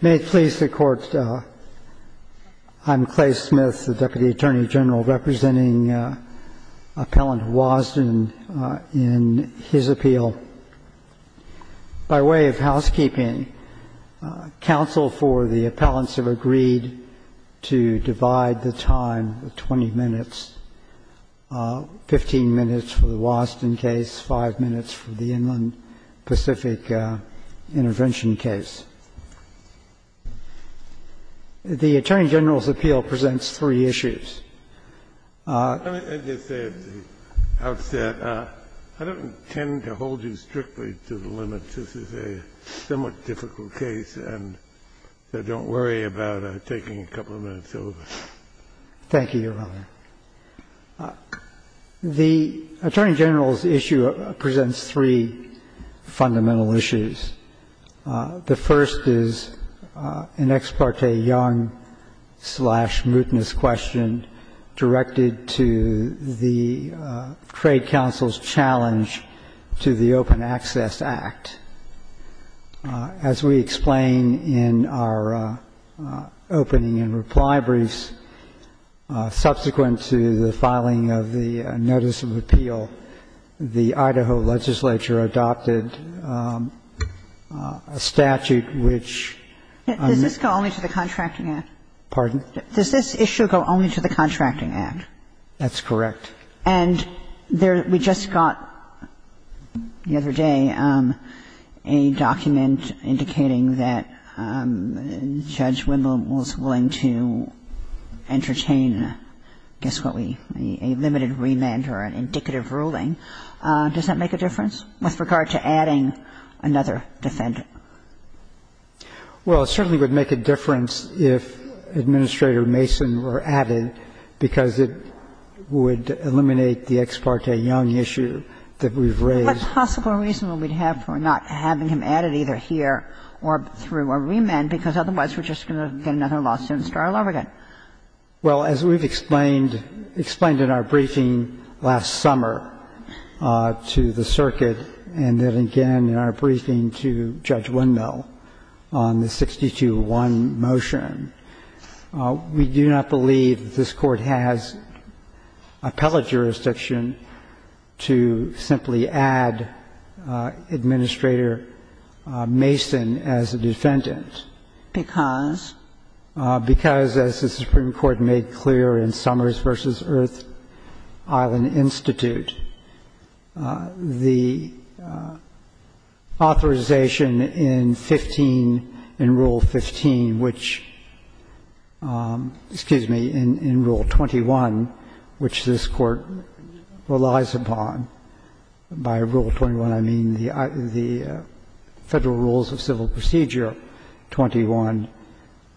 May it please the Court, I'm Clay Smith, the Deputy Attorney General representing Appellant Wasden in his appeal. By way of housekeeping, counsel for the appellants have agreed to divide the time to 20 minutes, 15 minutes for the Wasden case, 5 minutes for the Inland Pacific intervention case. The Attorney General's appeal presents three issues. I don't intend to hold you strictly to the limits. This is a somewhat difficult case and don't worry about taking a couple of minutes over. Thank you, Your Honor. The Attorney General's issue presents three fundamental issues. The first is an ex parte young-slash-mutinous question directed to the Trade Council's challenge to the Open Access Act. As we explain in our opening and reply briefs, subsequent to the filing of the Notice of Appeal, the Idaho Legislature adopted a statute which Does this issue go only to the Contracting Act? That's correct. And we just got the other day a document indicating that Judge Wimbley was willing to entertain a limited remand or an indicative ruling. Does that make a difference with regard to adding another defendant? Well, it certainly would make a difference if Administrator Mason were added because it would eliminate the ex parte young issue that we've raised. What possible reason would we have for not having him added either here or through a remand because otherwise we're just going to get another lawsuit and start all over again? Well, as we've explained in our briefing last summer to the Circuit and then again in our briefing to Judge Wimbley on the 6201 motion, we do not believe this Court has appellate jurisdiction to simply add Administrator Mason as a defendant. Because? Because, as the Supreme Court made clear in Summers v. Earth Island Institute, the authorization in Rule 15, which, excuse me, in Rule 21, which this Court relies upon, by Rule 21 I mean the Federal Rules of Civil Procedure 21,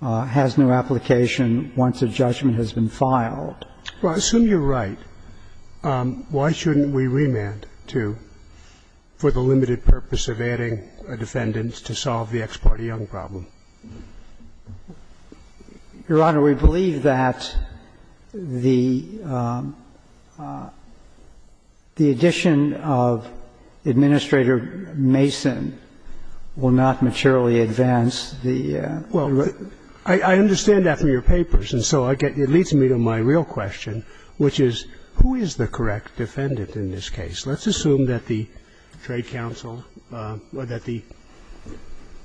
has no application once a judgment has been filed. Well, I assume you're right. Why shouldn't we remand for the limited purpose of adding a defendant to solve the ex parte young problem? Your Honor, we believe that the addition of Administrator Mason will not materially advance the... Well, I understand that from your papers, and so it leads me to my real question, which is who is the correct defendant in this case? Let's assume that the Trade Council or that the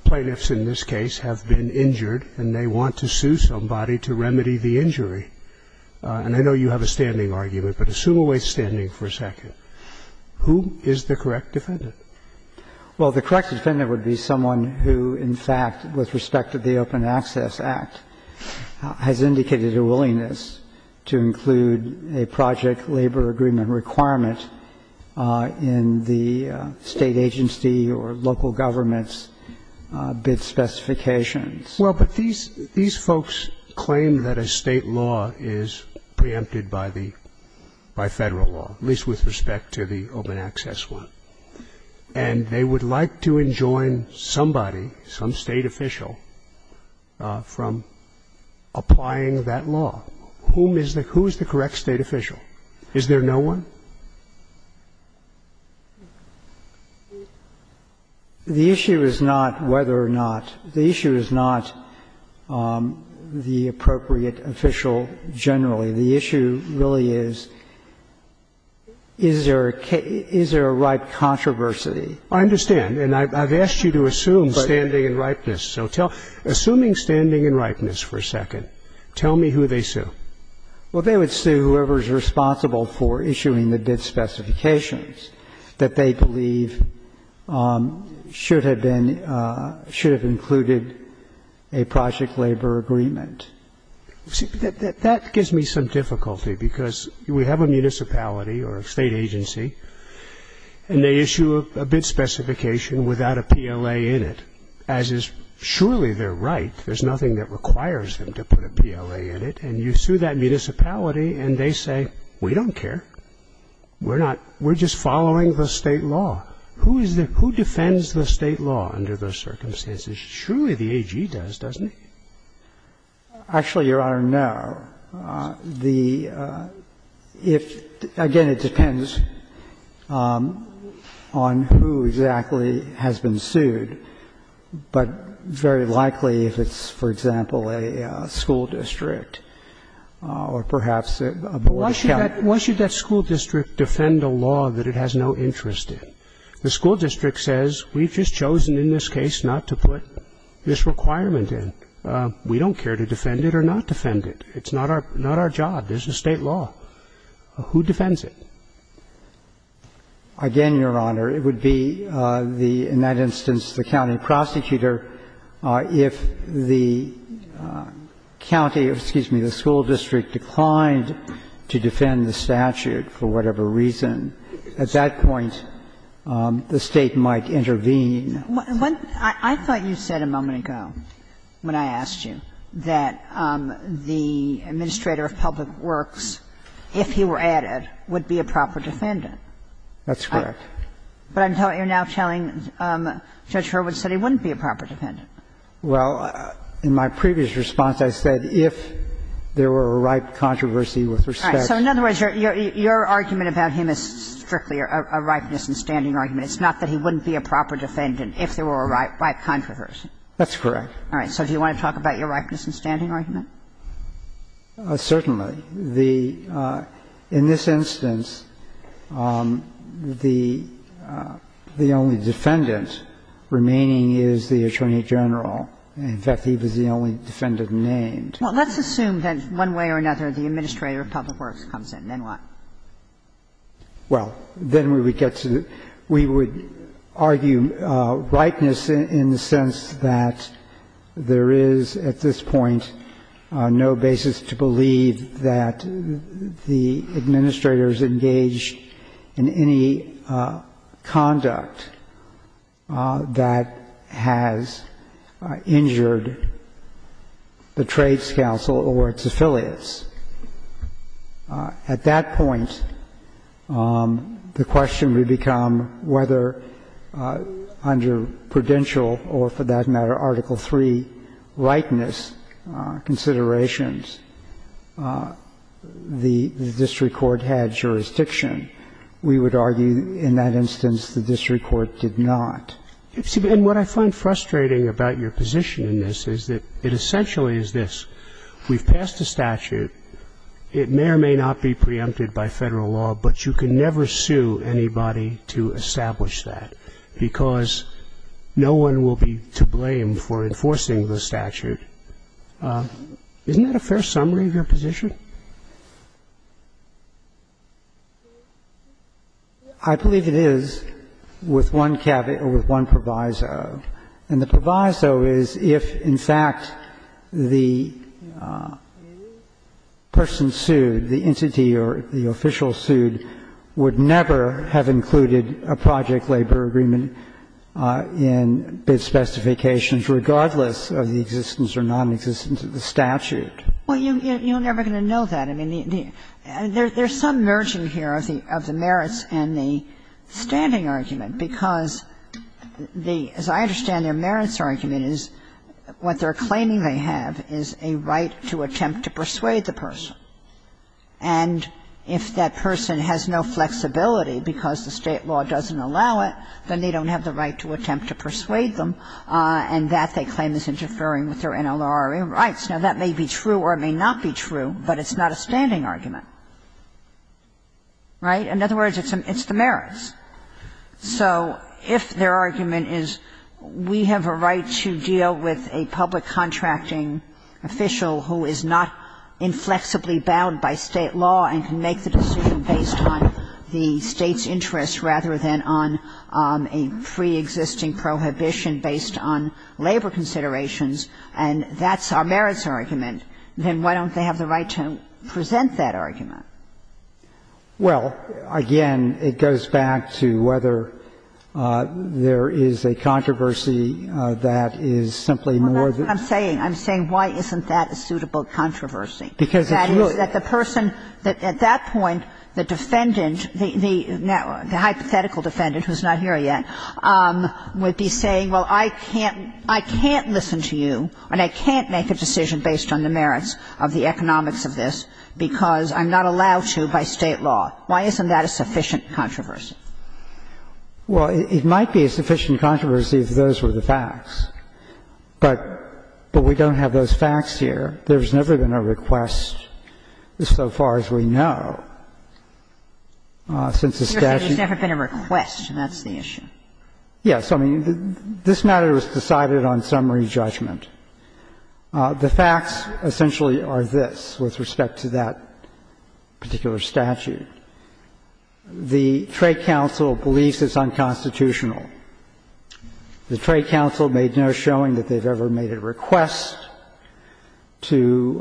plaintiffs in this case have been injured, and they want to sue somebody to remedy the injury. And I know you have a standing argument, but assume a way of standing for a second. Who is the correct defendant? Well, the correct defendant would be someone who, in fact, with respect to the Open Access Act, has indicated a willingness to include a project labor agreement requirement in the state agency or local government's bid specifications. Well, but these folks claim that a state law is preempted by Federal law, at least with respect to the Open Access one. And they would like to enjoin somebody, some state official, from applying that law. Who is the correct state official? Is there no one? The issue is not whether or not. The issue is not the appropriate official generally. The issue really is, is there a ripe controversy? I understand. And I've asked you to assume standing and ripeness. So assuming standing and ripeness for a second, tell me who they sue. Well, they would sue whoever is responsible for issuing the bid specifications that they believe should have included a project labor agreement. That gives me some difficulty, because we have a municipality or a state agency, and they issue a bid specification without a PLA in it, as is surely their right. There's nothing that requires them to put a PLA in it. And you sue that municipality, and they say, we don't care. We're just following the state law. Who defends the state law under those circumstances? Surely the AG does, doesn't it? Actually, Your Honor, no. Again, it depends on who exactly has been sued, but very likely if it's, for example, a school district or perhaps a boy scout. Why should that school district defend a law that it has no interest in? The school district says, we've just chosen in this case not to put this requirement in. We don't care to defend it or not defend it. It's not our job. It's the state law. Who defends it? Again, Your Honor, it would be, in that instance, the county prosecutor. If the county, excuse me, the school district declined to defend the statute for whatever reason, at that point, the state might intervene. I thought you said a moment ago, when I asked you, that the administrator of public works, if he were added, would be a proper defendant. That's correct. But you're now telling Judge Hurwitz that he wouldn't be a proper defendant. Well, in my previous response, I said if there were a ripe controversy with respect to the statute. So in other words, your argument about him is strictly a ripeness and standing argument. It's not that he wouldn't be a proper defendant if there were a ripe controversy. That's correct. All right. So do you want to talk about your ripeness and standing argument? Certainly. In this instance, the only defendant remaining is the attorney general. In fact, he was the only defendant named. Well, let's assume that, one way or another, the administrator of public works comes in. Then what? Well, then we would argue ripeness in the sense that there is, at this point, no basis to believe that the administrators engaged in any conduct that has injured the trades council or its affiliates. At that point, the question would become whether under prudential or, for that matter, Article III likeness considerations, the district court had jurisdiction. We would argue, in that instance, the district court did not. And what I find frustrating about your position in this is that it essentially is this. We've passed a statute. It may or may not be preempted by federal law, but you can never sue anybody to establish that because no one will be to blame for enforcing the statute. Isn't that a fair summary of your position? I believe it is with one caveat or with one proviso. And the proviso is if, in fact, the person sued, the entity or the official sued, would never have included a project labor agreement in bid specifications, regardless of the existence or non-existence of the statute. Well, you're never going to know that. I mean, there's some merging here of the merits and the standing argument because as I understand their merits argument is what they're claiming they have is a right to attempt to persuade the person. And if that person has no flexibility because the state law doesn't allow it, then they don't have the right to attempt to persuade them, and that they claim is interfering with their NLRA rights. Now, that may be true or it may not be true, but it's not a standing argument. Right? In other words, it's the merits. So if their argument is we have a right to deal with a public contracting official who is not inflexibly bound by state law and can make the decision based on the state's interest rather than on a preexisting prohibition based on labor considerations, and that's our merits argument, then why don't they have the right to present that argument? Well, again, it goes back to whether there is a controversy that is simply more than... I'm saying, I'm saying why isn't that a suitable controversy? Because it's really... That the person, at that point, the defendant, the hypothetical defendant who's not here yet, would be saying, well, I can't listen to you, and I can't make a decision based on the merits of the economics of this because I'm not allowed to by state law. Why isn't that a sufficient controversy? Well, it might be a sufficient controversy if those were the facts, but we don't have those facts here. There's never been a request so far as we know since the statute... There's never been a request, and that's the issue. Yes. I mean, this matter is decided on summary judgment. The facts, essentially, are this with respect to that particular statute. The Trade Council believes it's unconstitutional. The Trade Council made no showing that they've ever made a request to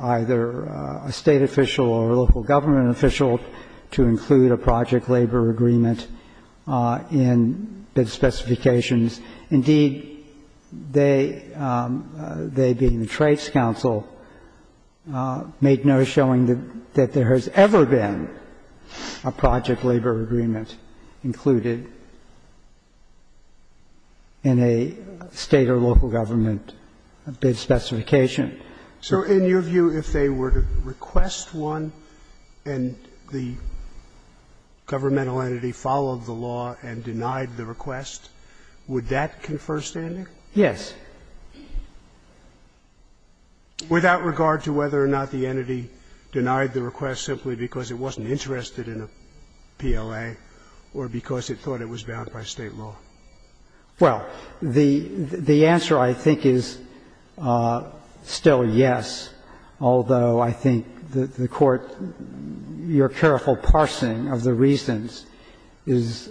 either a state official or a local government official to include a project labor agreement in the specifications. That means, indeed, they, being the Trade Council, made no showing that there has ever been a project labor agreement included in a state or local government bid specification. So, in your view, if they were to request one and the governmental entity followed the law and denied the request, would that confer standing? Yes. Without regard to whether or not the entity denied the request simply because it wasn't interested in a PLA or because it thought it was bound by state law? Well, the answer, I think, is still yes, although I think the Court's careful parsing of the reasons is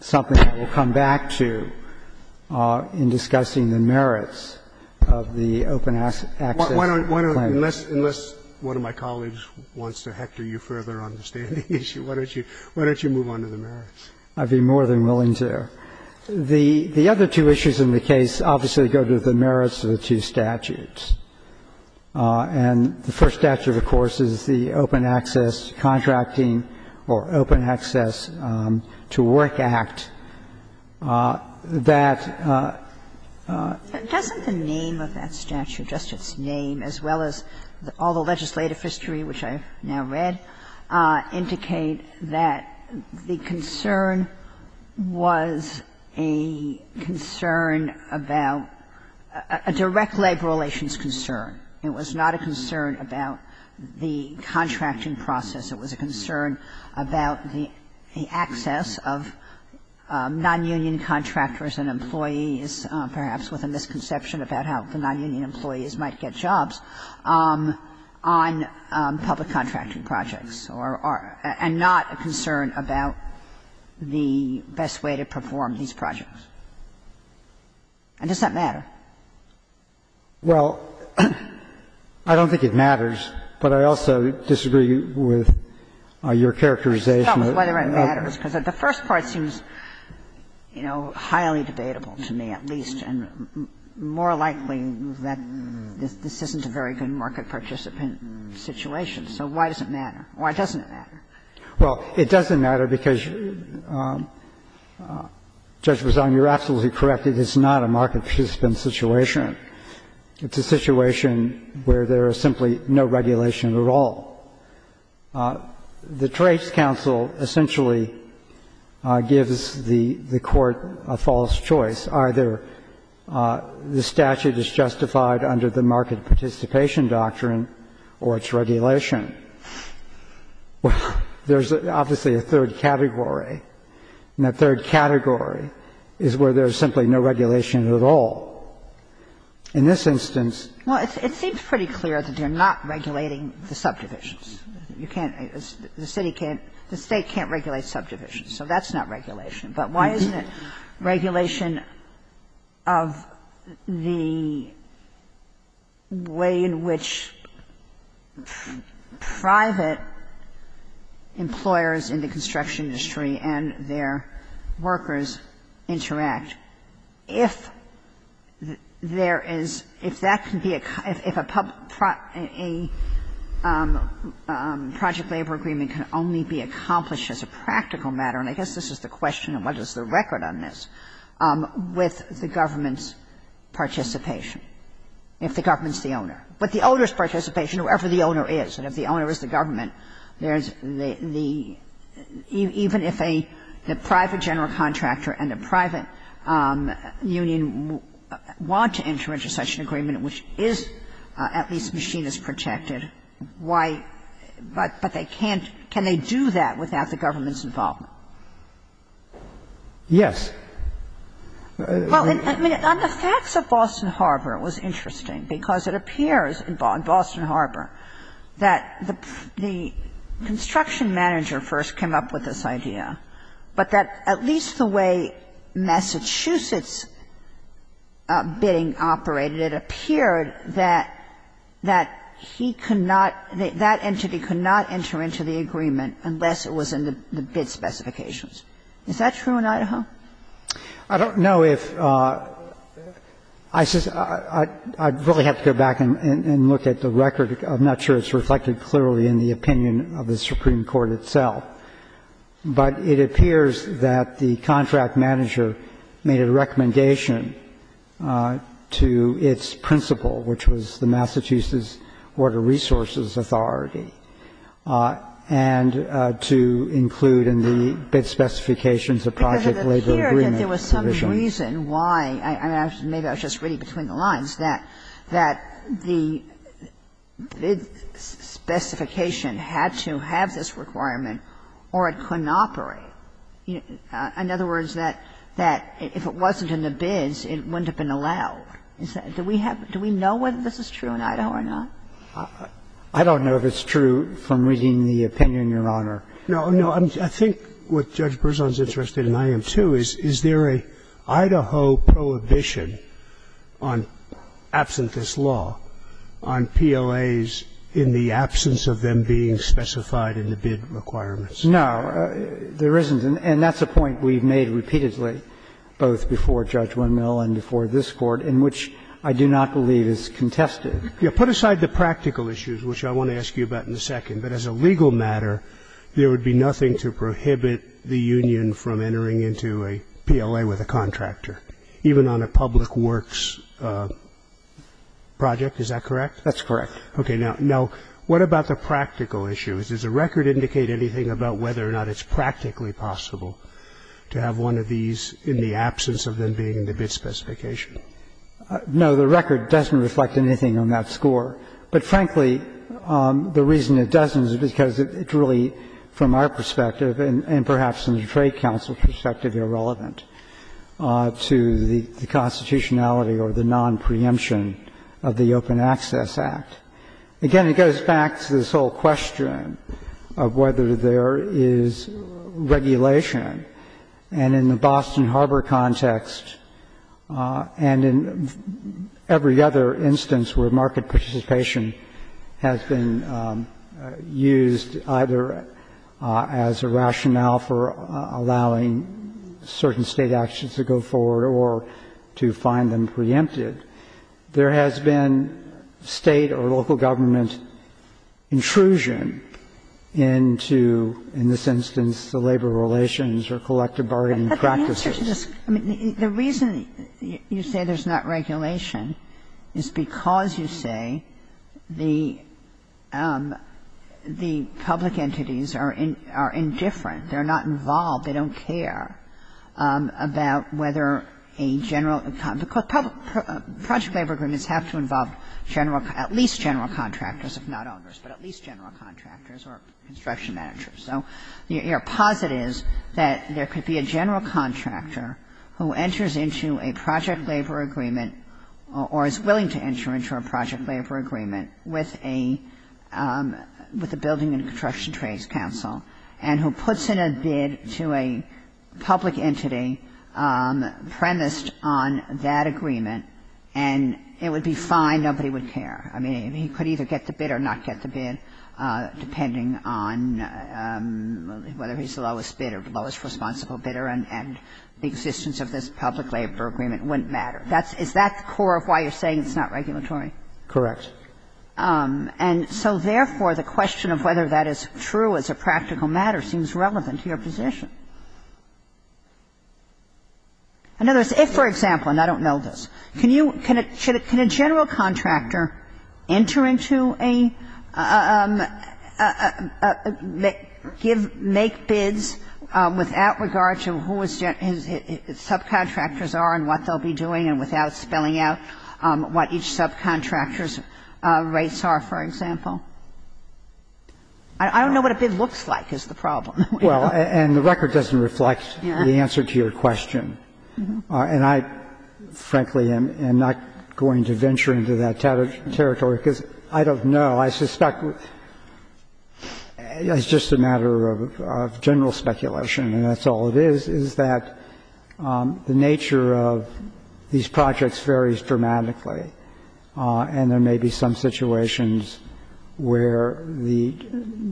something that we'll come back to in discussing the merits of the open access plan. Unless one of my colleagues wants to hector you further on the standing issue, why don't you move on to the merits? I'd be more than willing to. The other two issues in the case obviously go to the merits of the two statutes. And the first statute, of course, is the Open Access Contracting or Open Access to Work Act that... Doesn't the name of that statute, just its name, as well as all the legislative history which I've now read, indicate that the concern was a concern about a direct labor relations concern? It was not a concern about the contracting process. It was a concern about the access of non-union contractors and employees, perhaps with a misconception about how the non-union employees might get jobs, on public contracting projects and not a concern about the best way to perform these projects? And does that matter? Well, I don't think it matters, but I also disagree with your characterization. No, but whether it matters, because the first part seems highly debatable to me at least, and more likely that this isn't a very good market participant situation. So why does it matter? Why doesn't it matter? Well, it doesn't matter because, Judge Bazan, you're absolutely correct. It is not a market participant situation. It's a situation where there is simply no regulation at all. The Trades Council essentially gives the court a false choice. Either the statute is justified under the market participation doctrine or its regulation. There's obviously a third category, and that third category is where there's simply no regulation at all. In this instance... Well, it seems pretty clear that they're not regulating the subdivisions. The state can't regulate subdivisions, so that's not regulation. But why isn't it regulation of the way in which private employers in the construction industry and their workers interact? If there is, if that can be, if a project labor agreement can only be accomplished as a practical matter, and I guess this is the question of whether there's a record on this, with the government's participation. If the government's the owner. But the owner's participation, whoever the owner is, and if the owner is the government, even if the private general contractor and the private union want to enter into such an agreement, which is at least machinist protected, why, but they can't, can they do that without the government's involvement? Yes. Well, I mean, on the facts of Boston Harbor it was interesting, because it appears in Boston Harbor that the construction manager first came up with this idea, but that at least the way Massachusetts bidding operated, it appeared that he could not, that entity could not enter into the agreement unless it was in the bid specifications. Is that true in Idaho? I don't know if, I'd probably have to go back and look at the record. I'm not sure it's reflected clearly in the opinion of the Supreme Court itself. But it appears that the contract manager made a recommendation to its principal, which was the Massachusetts Water Resources Authority, and to include in the bid specifications a project labor agreement provision. Because it appears that there was some reason why, in other words, that the bid specification had to have this requirement or it couldn't operate. In other words, that if it wasn't in the bids, it wouldn't have been allowed. Do we know whether this is true in Idaho or not? I don't know if it's true from reading the opinion, Your Honor. No, no. I think what Judge Berzon's interested in, I am too, is there a Idaho prohibition on absenteeist law on PLAs in the absence of them being specified in the bid requirements? No, there isn't. And that's a point we've made repeatedly, both before Judge Winmill and before this Court, in which I do not believe is contested. Yeah, put aside the practical issues, which I want to ask you about in a second. But as a legal matter, there would be nothing to prohibit the union from entering into a PLA with a contractor, even on a public works project. Is that correct? That's correct. Okay. Now, what about the practical issues? Does the record indicate anything about whether or not it's practically possible to have one of these in the absence of them being in the bid specification? No, the record doesn't reflect anything on that score. But frankly, the reason it doesn't is because it's really, from our perspective and perhaps from the Trade Council's perspective, irrelevant to the constitutionality or the non-preemption of the Open Access Act. Again, it goes back to this whole question of whether there is regulation. And in the Boston Harbor context and in every other instance where market participation has been used either as a rationale for allowing certain state actions to go forward or to find them preempted, there has been state or local government intrusion into, in this instance, the labor relations or collective bargaining practices. The reason you say there's not regulation is because you say the public entities are indifferent. They're not involved. They don't care about whether a general... Project favor agreements have to involve at least general contractors, if not others, but at least general contractors or construction managers. So your posit is that there could be a general contractor who enters into a project labor agreement or is willing to enter into a project labor agreement with a building and construction trade council and who puts in a bid to a public entity premised on that agreement, and it would be fine. Nobody would care. I mean, he could either get the bid or not get the bid depending on whether he's the lowest bid or lowest responsible bidder, and the existence of this public labor agreement wouldn't matter. Is that the core of why you're saying it's not regulatory? Correct. And so, therefore, the question of whether that is true as a practical matter seems relevant to your position. In other words, if, for example, and I don't know this, can a general contractor enter into a... make bids without regard to who his subcontractors are and what they'll be doing and without spelling out what each subcontractor's rates are, for example? I don't know what a bid looks like is the problem. Well, and the record doesn't reflect the answer to your question, and I, frankly, am not going to venture into that territory because I don't know. I suspect it's just a matter of general speculation, and that's all it is, is that the nature of these projects varies dramatically, and there may be some situations where the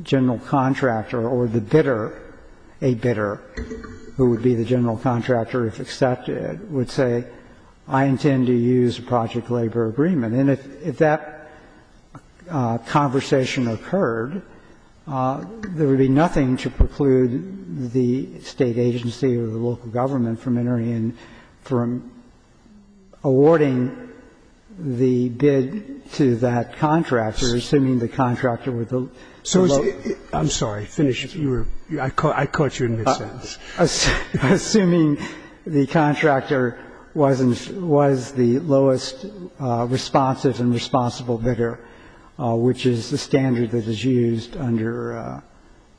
general contractor or the bidder, a bidder who would be the general contractor if accepted, would say, I intend to use a project labor agreement. And if that conversation occurred, there would be nothing to preclude the state agency or the local government from entering and from awarding the bid to that contractor, assuming the contractor was the lowest... I'm sorry. Finish. I caught you in a second. Assuming the contractor was the lowest responsive and responsible bidder, which is the standard that is used under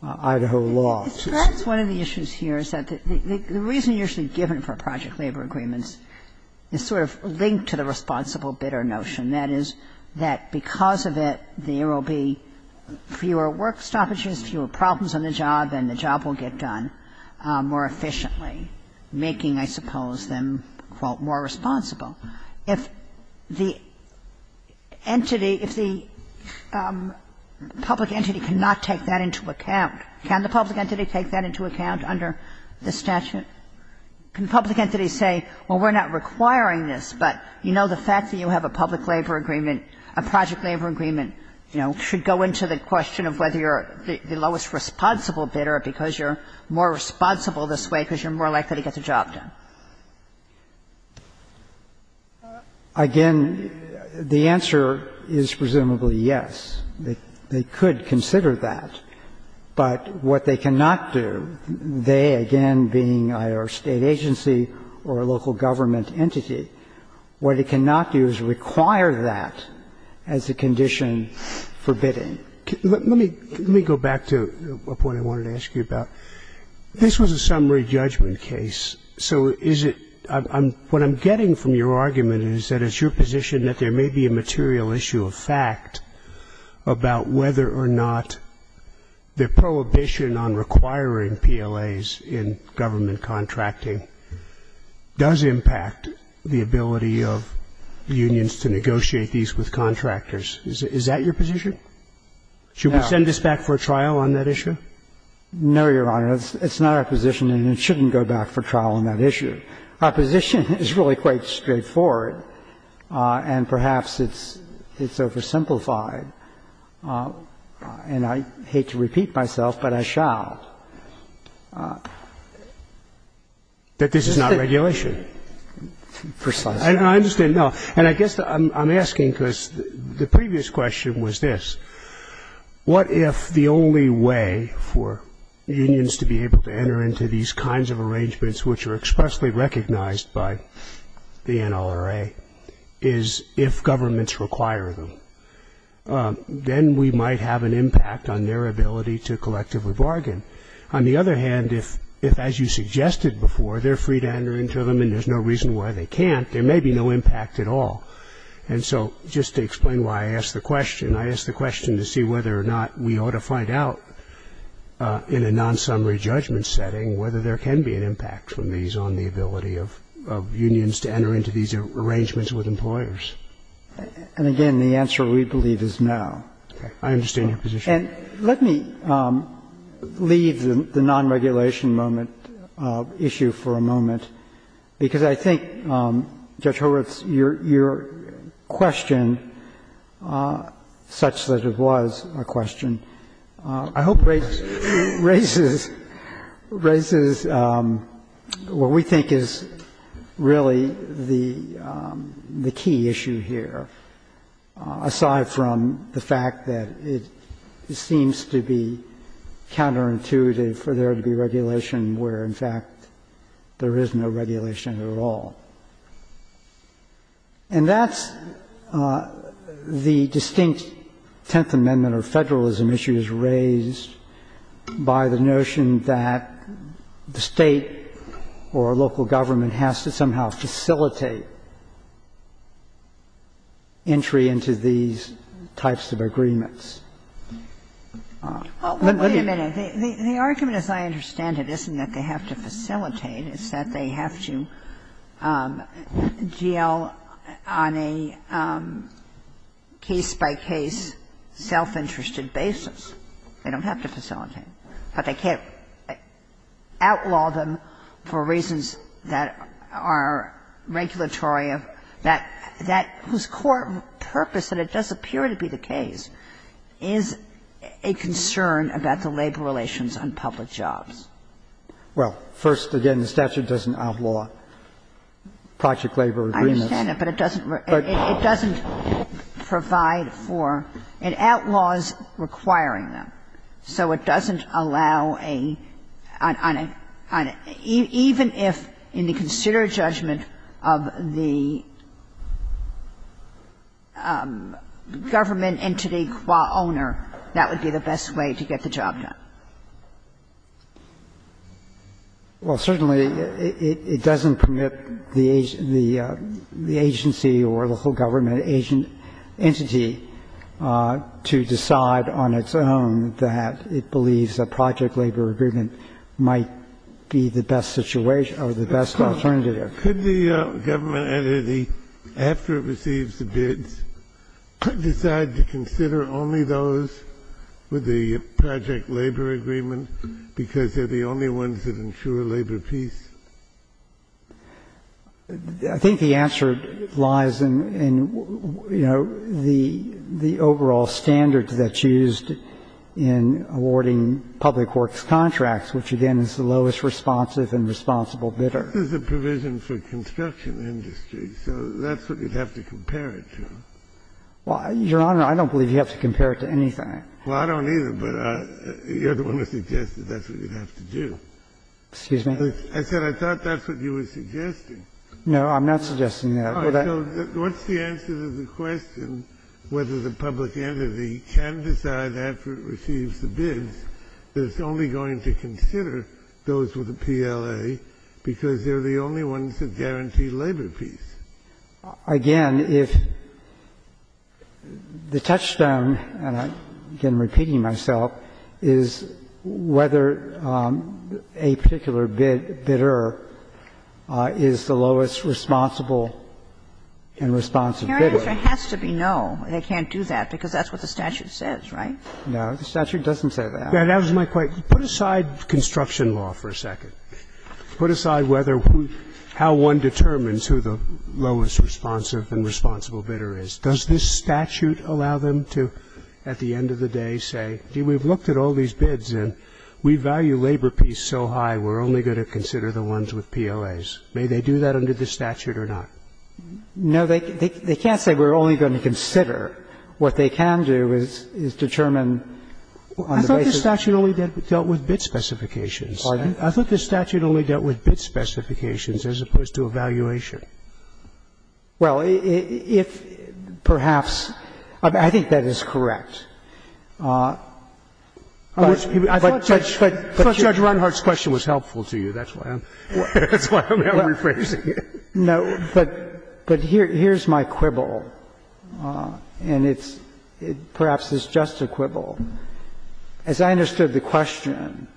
Idaho law. One of the issues here is that the reason usually given for project labor agreements is sort of linked to the responsible bidder notion. That is that because of it, there will be fewer work stoppages, fewer problems on the job, and the job will get done more efficiently, making, I suppose, them, quote, more responsible. If the entity, if the public entity cannot take that into account, can the public entity take that into account under the statute? Can the public entity say, well, we're not requiring this, but you know the fact that you have a public labor agreement, a project labor agreement, you know, should go into the question of whether you're the lowest responsible bidder because you're more responsible this way because you're more likely to get the job done. Again, the answer is presumably yes. They could consider that, but what they cannot do, they again being either a state agency or a local government entity, what they cannot do is require that as a condition for bidding. Let me go back to a point I wanted to ask you about. This was a summary judgment case. So is it, what I'm getting from your argument is that it's your position that there may be a material issue of fact about whether or not the prohibition on requiring PLAs in government contracting does impact the ability of unions to negotiate these with contractors. Is that your position? Should we send this back for trial on that issue? No, Your Honor. It's not our position, and it shouldn't go back for trial on that issue. Our position is really quite straightforward, and perhaps it's oversimplified, and I hate to repeat myself, but I shall. But this is not regulation. Precisely. I understand. No, and I guess I'm asking because the previous question was this. What if the only way for unions to be able to enter into these kinds of arrangements which are expressly recognized by the NLRA is if governments require them? Then we might have an impact on their ability to collectively bargain. On the other hand, if, as you suggested before, they're free to enter into them and there's no reason why they can't, there may be no impact at all. And so just to explain why I asked the question, I asked the question to see whether or not we ought to find out in a non-summary judgment setting whether there can be an impact from these on the ability of unions to enter into these arrangements with employers. And again, the answer we believe is no. Okay. I understand your position. And let me leave the non-regulation moment issue for a moment, because I think, Judge Horowitz, your question, such that it was a question, I hope raises what we think is really the key issue here, aside from the fact that it seems to be counterintuitive for there to be regulation where, in fact, there is no regulation at all. And that's the distinct Tenth Amendment or federalism issues raised by the notion that the state or local government has to somehow facilitate entry into these types of agreements. Wait a minute. The argument, as I understand it, isn't that they have to facilitate. It's that they have to deal on a case-by-case, self-interested basis. They don't have to facilitate. But they can't outlaw them for reasons that are regulatory, that whose core purpose, that it does appear to be the case, is a concern about the labor relations on public jobs. Well, first, again, the statute doesn't outlaw project labor agreements. I understand that, but it doesn't provide for, it outlaws requiring them. So it doesn't allow a, on a, even if, in the considered judgment of the government entity owner, that would be the best way to get the job done. Well, certainly it doesn't permit the agency or local government entity to decide on its own that it believes a project labor agreement might be the best situation or the best alternative. Could the government entity, after it receives the bids, decide to consider only those with the project labor agreement because they're the only ones that ensure labor peace? I think the answer lies in, you know, the overall standard that's used in awarding public works contracts, which, again, is the lowest responsive and responsible bidder. There's a provision for construction industry, so that's what you'd have to compare it to. Well, Your Honor, I don't believe you have to compare it to anything. Well, I don't either, but you're the one who suggested that's what you'd have to do. Excuse me? I thought that's what you were suggesting. No, I'm not suggesting that. What's the answer to the question whether the public entity can decide, after it receives the bid, that it's only going to consider those with the PLA because they're the only ones that guarantee labor peace? Again, if the touchstone, and I'm repeating myself, is whether a particular bidder is the lowest responsible and responsive bidder. Your Honor, there has to be no. They can't do that because that's what the statute says, right? No. The statute doesn't say that. That was my point. Put aside construction law for a second. Put aside how one determines who the lowest responsive and responsible bidder is. Does this statute allow them to, at the end of the day, say, we've looked at all these bids and we value labor peace so high, we're only going to consider the ones with PLAs. May they do that under the statute or not? No, they can't say we're only going to consider. What they can do is determine on the basis of the statute. I thought the statute only dealt with bid specifications. Pardon? I thought the statute only dealt with bid specifications as opposed to evaluation. Well, if perhaps ‑‑ I think that is correct. But Judge Runhart's question was helpful to you. That's why I'm rephrasing it. No, but here's my quibble, and it's perhaps it's just a quibble. As I understood the question,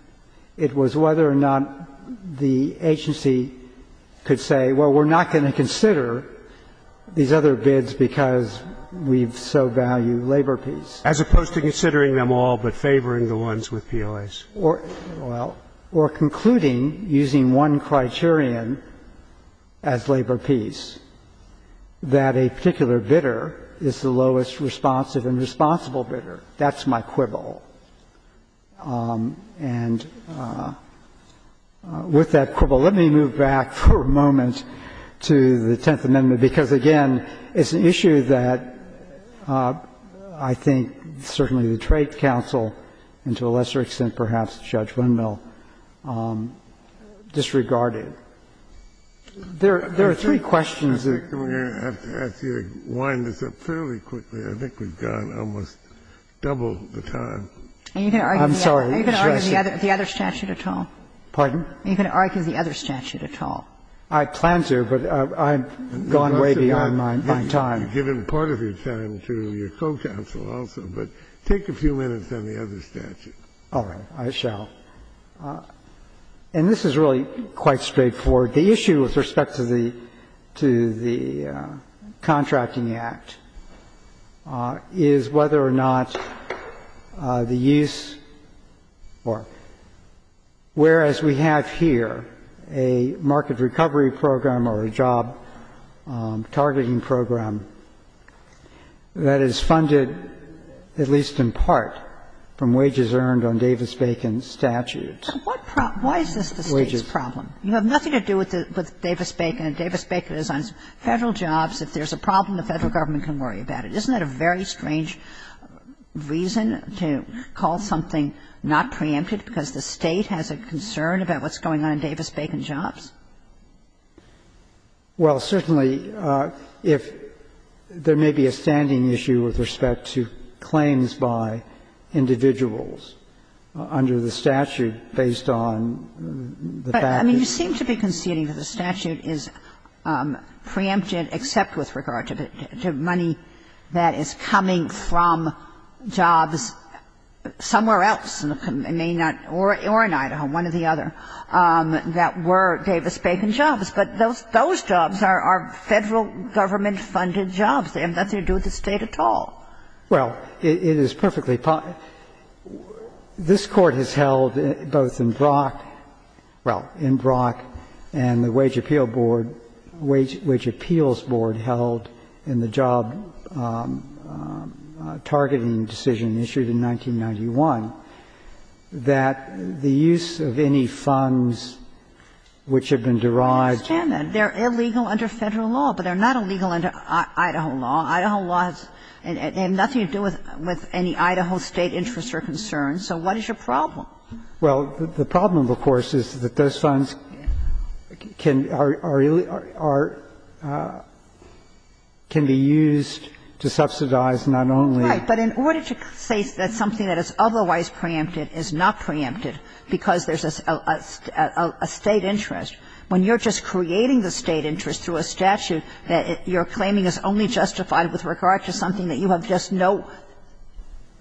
it was whether or not the agency could say, well, we're not going to consider these other bids because we so value labor peace. As opposed to considering them all but favoring the ones with PLAs. Well, or concluding using one criterion as labor peace, that a particular bidder is the lowest responsive and responsible bidder. That's my quibble. And with that quibble, let me move back for a moment to the Tenth Amendment, because, again, it's an issue that I think certainly the Trade Council and to a lesser extent perhaps Judge Windmill disregarded. There are three questions. If you wind this up fairly quickly, I think we've gone almost double the time. I'm sorry. Are you going to argue the other statute at all? Pardon? Are you going to argue the other statute at all? I plan to, but I've gone way beyond my time. You've given part of your time to your co‑counsel also, but take a few minutes on the other statute. All right, I shall. And this is really quite straightforward. The issue with respect to the Contracting Act is whether or not the use or whereas we have here a market recovery program or a job targeting program that is funded at least in part from wages earned on Davis‑Bacon statutes. Why is this a state problem? You have nothing to do with Davis‑Bacon. If Davis‑Bacon is on federal jobs, if there's a problem, the federal government can worry about it. Isn't that a very strange reason to call something not preempted because the state has a concern about what's going on in Davis‑Bacon jobs? Well, certainly, there may be a standing issue with respect to claims by individuals under the statute based on the fact that... But, I mean, you seem to be conceding that the statute is preempted except with regard to money that is coming from jobs somewhere else or in Idaho, one or the other, that were Davis‑Bacon jobs. But those jobs are federal government‑funded jobs. They have nothing to do with the state at all. Well, it is perfectly fine. This Court has held both in Brock and the Wage Appeals Board held in the job targeting decision issued in 1991 that the use of any funds which have been derived... I understand that. They're illegal under federal law, but they're not illegal under Idaho law. They have nothing to do with any Idaho state interests or concerns. So what is your problem? Well, the problem, of course, is that those funds can be used to subsidize not only... But in order to say that something that is otherwise preempted is not preempted because there's a state interest, that your claiming is only justified with regard to something that you have just no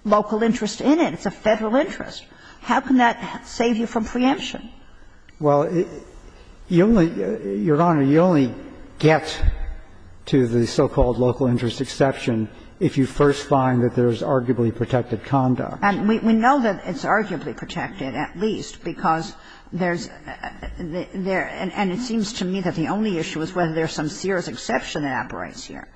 local interest in it. It's a federal interest. How can that save you from preemption? Well, Your Honor, you only get to the so‑called local interest exception if you first find that there's arguably protected conduct. And we know that it's arguably protected, at least, because there's... And it seems to me that the only issue is whether there's some serious exception that operates here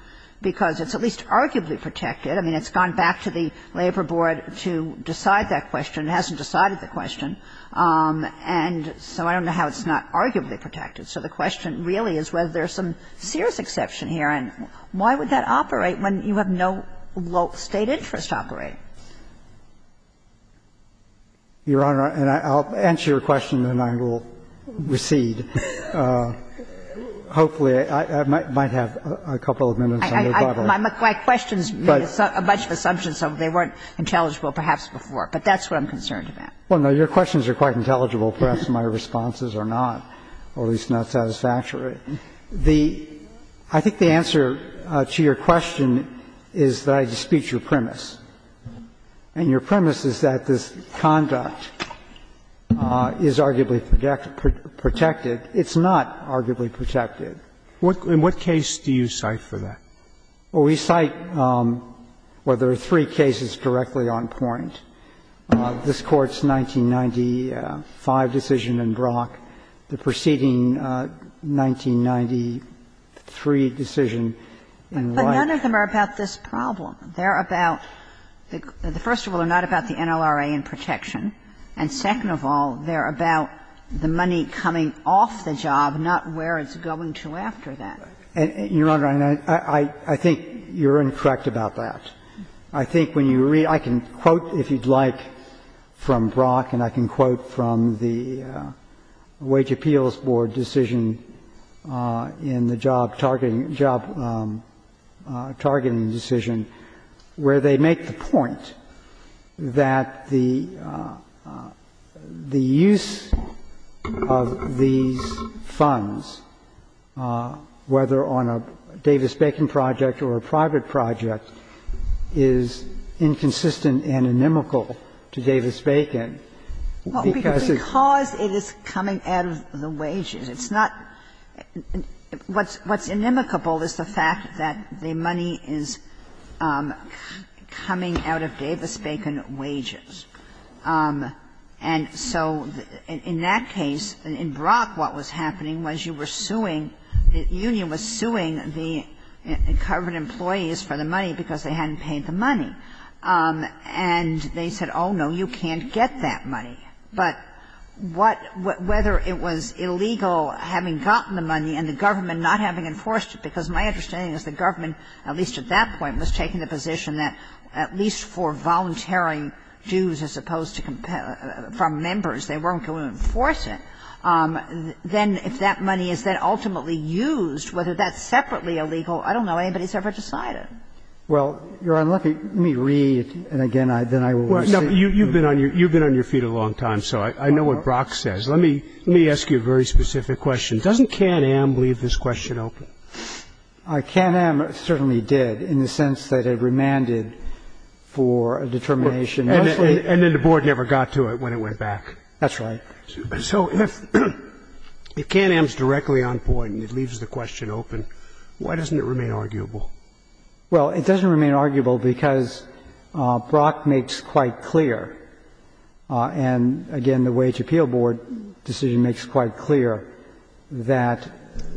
because it's at least arguably protected. I mean, it's gone back to the Labor Board to decide that question. It hasn't decided the question. And so I don't know how it's not arguably protected. So the question really is whether there's some serious exception here and why would that operate when you have no state interest operating? Your Honor, I'll answer your question and then I will recede. Hopefully, I might have a couple of minutes. My questions made a bunch of assumptions, so they weren't intelligible perhaps before. But that's what I'm concerned about. Well, no, your questions are quite intelligible. Perhaps my responses are not, or at least not satisfactory. I think the answer to your question is that I dispute your premise. And your premise is that this conduct is arguably protected. It's not arguably protected. In what case do you cite for that? Well, we cite, well, there are three cases directly on point. This Court's 1995 decision in Brock, the preceding 1993 decision in Wright. But none of them are about this problem. They're about, first of all, they're not about the NLRA in protection. And second of all, they're about the money coming off the job, not where it's going to after that. Your Honor, I think you're incorrect about that. I think when you read, I can quote if you'd like from Brock, and I can quote from the Wage Appeals Board decision in the job targeting decision, where they make the point that the use of these funds, whether on a Davis-Bacon project or a private project, is inconsistent and inimical to Davis-Bacon. Because it is coming out of the wages. It's not, what's inimical is the fact that the money is coming out of Davis-Bacon wages. And so in that case, in Brock, what was happening was you were suing, the union was suing the covered employees for the money because they hadn't paid the money. And they said, oh, no, you can't get that money. But whether it was illegal having gotten the money and the government not having enforced it, because my understanding is the government, at least at that point, was taking the position that at least for volunteering dues as opposed to from members, they weren't going to enforce it, then if that money is then ultimately used, whether that's separately illegal, I don't know. Anybody's ever decided. Well, you're unlucky. Let me read, and again, then I will assume. You've been on your feet a long time, so I know what Brock says. Let me ask you a very specific question. Doesn't K&M leave this question open? K&M certainly did in the sense that it remanded for a determination. And then the board never got to it when it went back. That's right. So if K&M is directly on point and it leaves the question open, why doesn't it remain arguable? Well, it doesn't remain arguable because Brock makes quite clear, and again, the Wage Appeal Board decision makes quite clear, that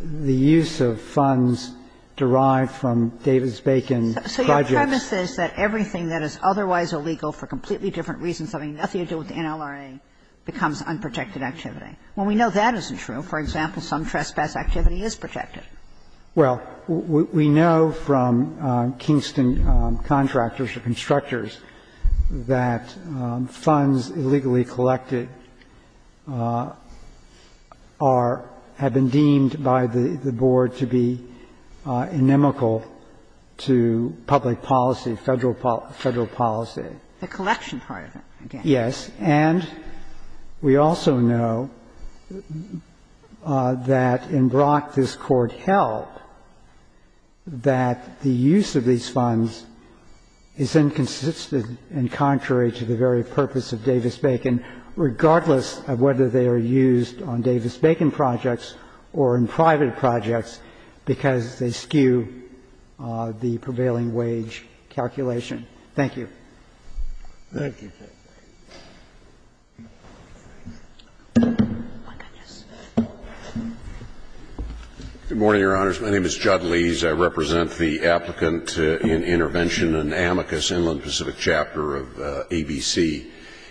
the use of funds derived from Davis-Bacon projects. So your premise is that everything that is otherwise illegal for completely different reasons, having nothing to do with the NLRA, becomes unprotected activity. Well, we know that isn't true. For example, some trespass activity is protected. Well, we know from Kingston contractors or constructors that funds illegally collected are, have been deemed by the board to be inimical to public policy, federal policy. The collection part of it, again. Yes. And we also know that in Brock this court held that the use of these funds is inconsistent and contrary to the very purpose of Davis-Bacon, regardless of whether they are used on Davis-Bacon projects or in private projects because they skew the prevailing wage calculation. Thank you. Thank you. Good morning, Your Honors. My name is John Lees. I represent the Applicant in Intervention in Amicus, Inland Pacific Chapter of ABC.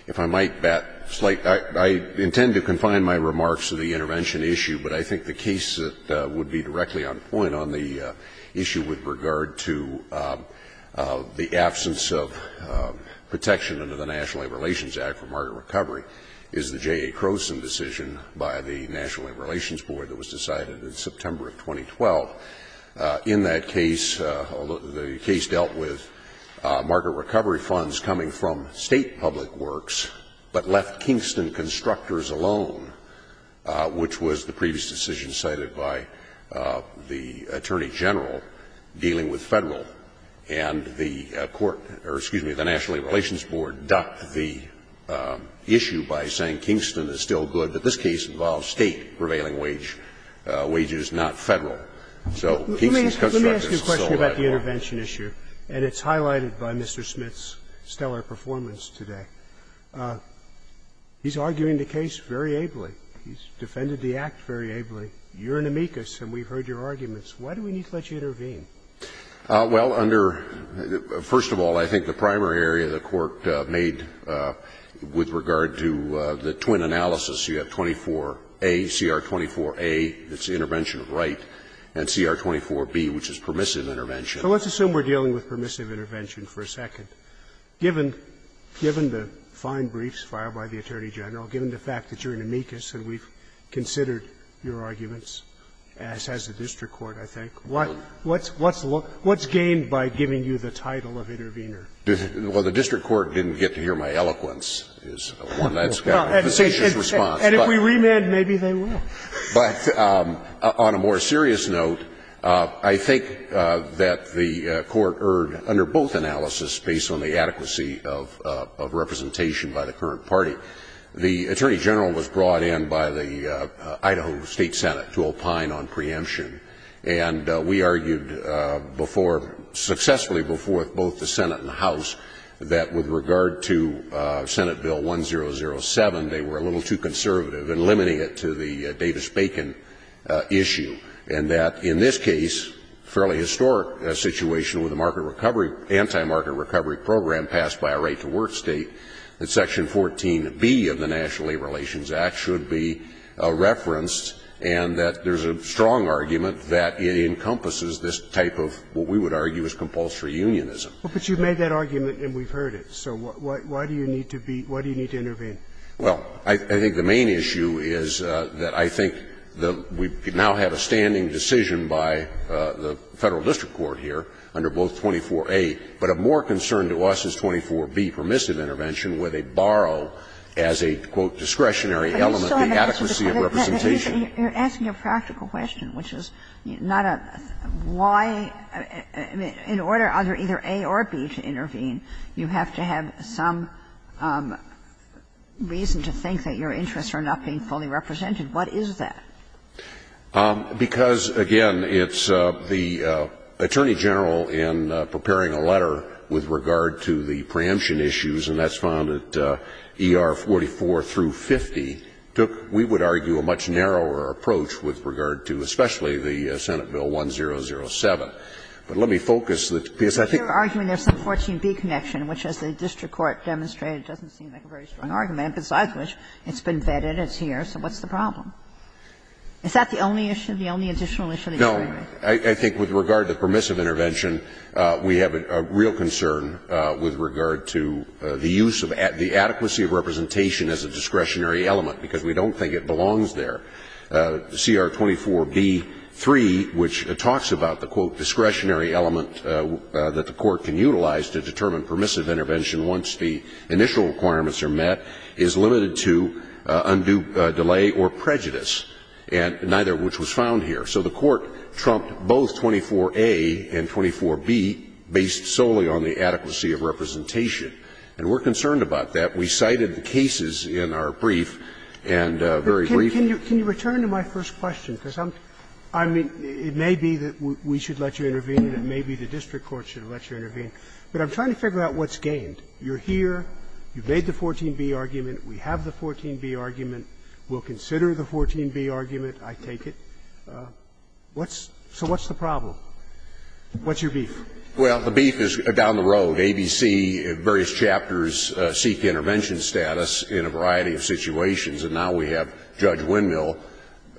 If I might, I intend to confine my remarks to the intervention issue, but I think the case that would be directly on point on the issue with regard to the absence of protection under the National Labor Relations Act for market recovery is the J.A. Crowson decision by the National Labor Relations Board that was decided in September of 2012. In that case, the case dealt with market recovery funds coming from state public works but left Kingston constructors alone, which was the previous decision cited by the Attorney General dealing with federal. And the National Labor Relations Board ducked the issue by saying Kingston is still good, but this case involves state prevailing wages, not federal. So, Kingston constructors still have it. Let me ask you a question about the intervention issue, and it's highlighted by Mr. Smith's stellar performance today. He's arguing the case very ably. He's defended the act very ably. You're in amicus, and we've heard your arguments. Why do we need to let you intervene? Well, under — first of all, I think the primary area the Court made with regard to the twin analysis, you have 24A, CR24A, that's the intervention of right, and CR24B, which is permissive intervention. So let's assume we're dealing with permissive intervention for a second. Given the fine briefs filed by the Attorney General, given the fact that you're in amicus and we've considered your arguments, as has the district court, I think, what's gained by giving you the title of intervener? Well, the district court didn't get to hear my eloquence is one that's got a facetious response. And if we remand, maybe they will. But on a more serious note, I think that the Court erred under both analyses based on the adequacy of representation by the current party. The Attorney General was brought in by the Idaho State Senate to opine on preemption. And we argued before — successfully before both the Senate and the House that with regard to Senate Bill 1007, they were a little too conservative in limiting it to the Davis-Bacon issue. And that in this case, a fairly historic situation with a market recovery — anti-market recovery program passed by a right-to-work state, that Section 14B of the National Labor Relations Act should be referenced and that there's a strong argument that it encompasses this type of what we would argue is compulsory unionism. But you've made that argument and we've heard it. So why do you need to intervene? Well, I think the main issue is that I think that we now have a standing decision by the Federal District Court here under both 24A, but of more concern to us is 24B, permissive intervention, where they borrow as a, quote, discretionary element the adequacy of representation. You're asking a practical question, which is not a — why — in order either A or B to intervene, you have to have some reason to think that your interests are not being fully represented. What is that? Because, again, it's the attorney general in preparing a letter with regard to the preemption issues, and that's found that ER 44 through 50 took, we would argue, a much narrower approach with regard to especially the Senate Bill 1007. But let me focus the piece — But you're arguing there's some 14B connection, which, as the district court demonstrated, doesn't seem like a very strong argument, besides which it's been vetted as here, so what's the problem? Is that the only issue, the only additional issue? No. I think with regard to permissive intervention, we have a real concern with regard to the use of the adequacy of representation as a discretionary element because we don't think it belongs there. CR 24B3, which talks about the, quote, discretionary element that the court can utilize to determine permissive intervention once the initial requirements are met, is limited to undue delay or prejudice, neither of which was found here. So the court trumped both 24A and 24B based solely on the adequacy of representation, and we're concerned about that. We cited the cases in our brief, and very briefly — Can you return to my first question? Because I'm — I mean, it may be that we should let you intervene, and it may be the district court should let you intervene, but I'm trying to figure out what's gained. You're here. You've made the 14B argument. We have the 14B argument. We'll consider the 14B argument. I take it. What's — so what's the problem? What's your beef? Well, the beef is down the road. ABC and various chapters seek intervention status in a variety of situations, and now we have Judge Wendell,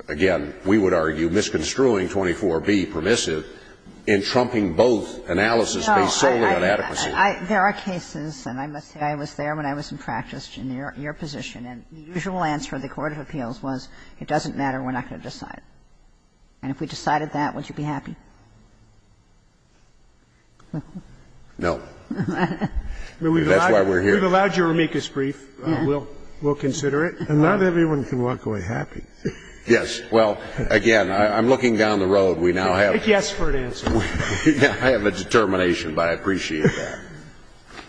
again, we would argue misconstruing 24B permissive in trumping both analysis based solely on adequacy. There are cases, and I must say I was there when I was in practice in your position, and the usual answer of the Court of Appeals was it doesn't matter, we're not going to decide. And if we decided that, would you be happy? No. That's why we're here. You've allowed your amicus brief. We'll consider it. And not everyone can walk away happy. Yes. Well, again, I'm looking down the road. We now have — It's yes for an answer. I have a determination, but I appreciate that.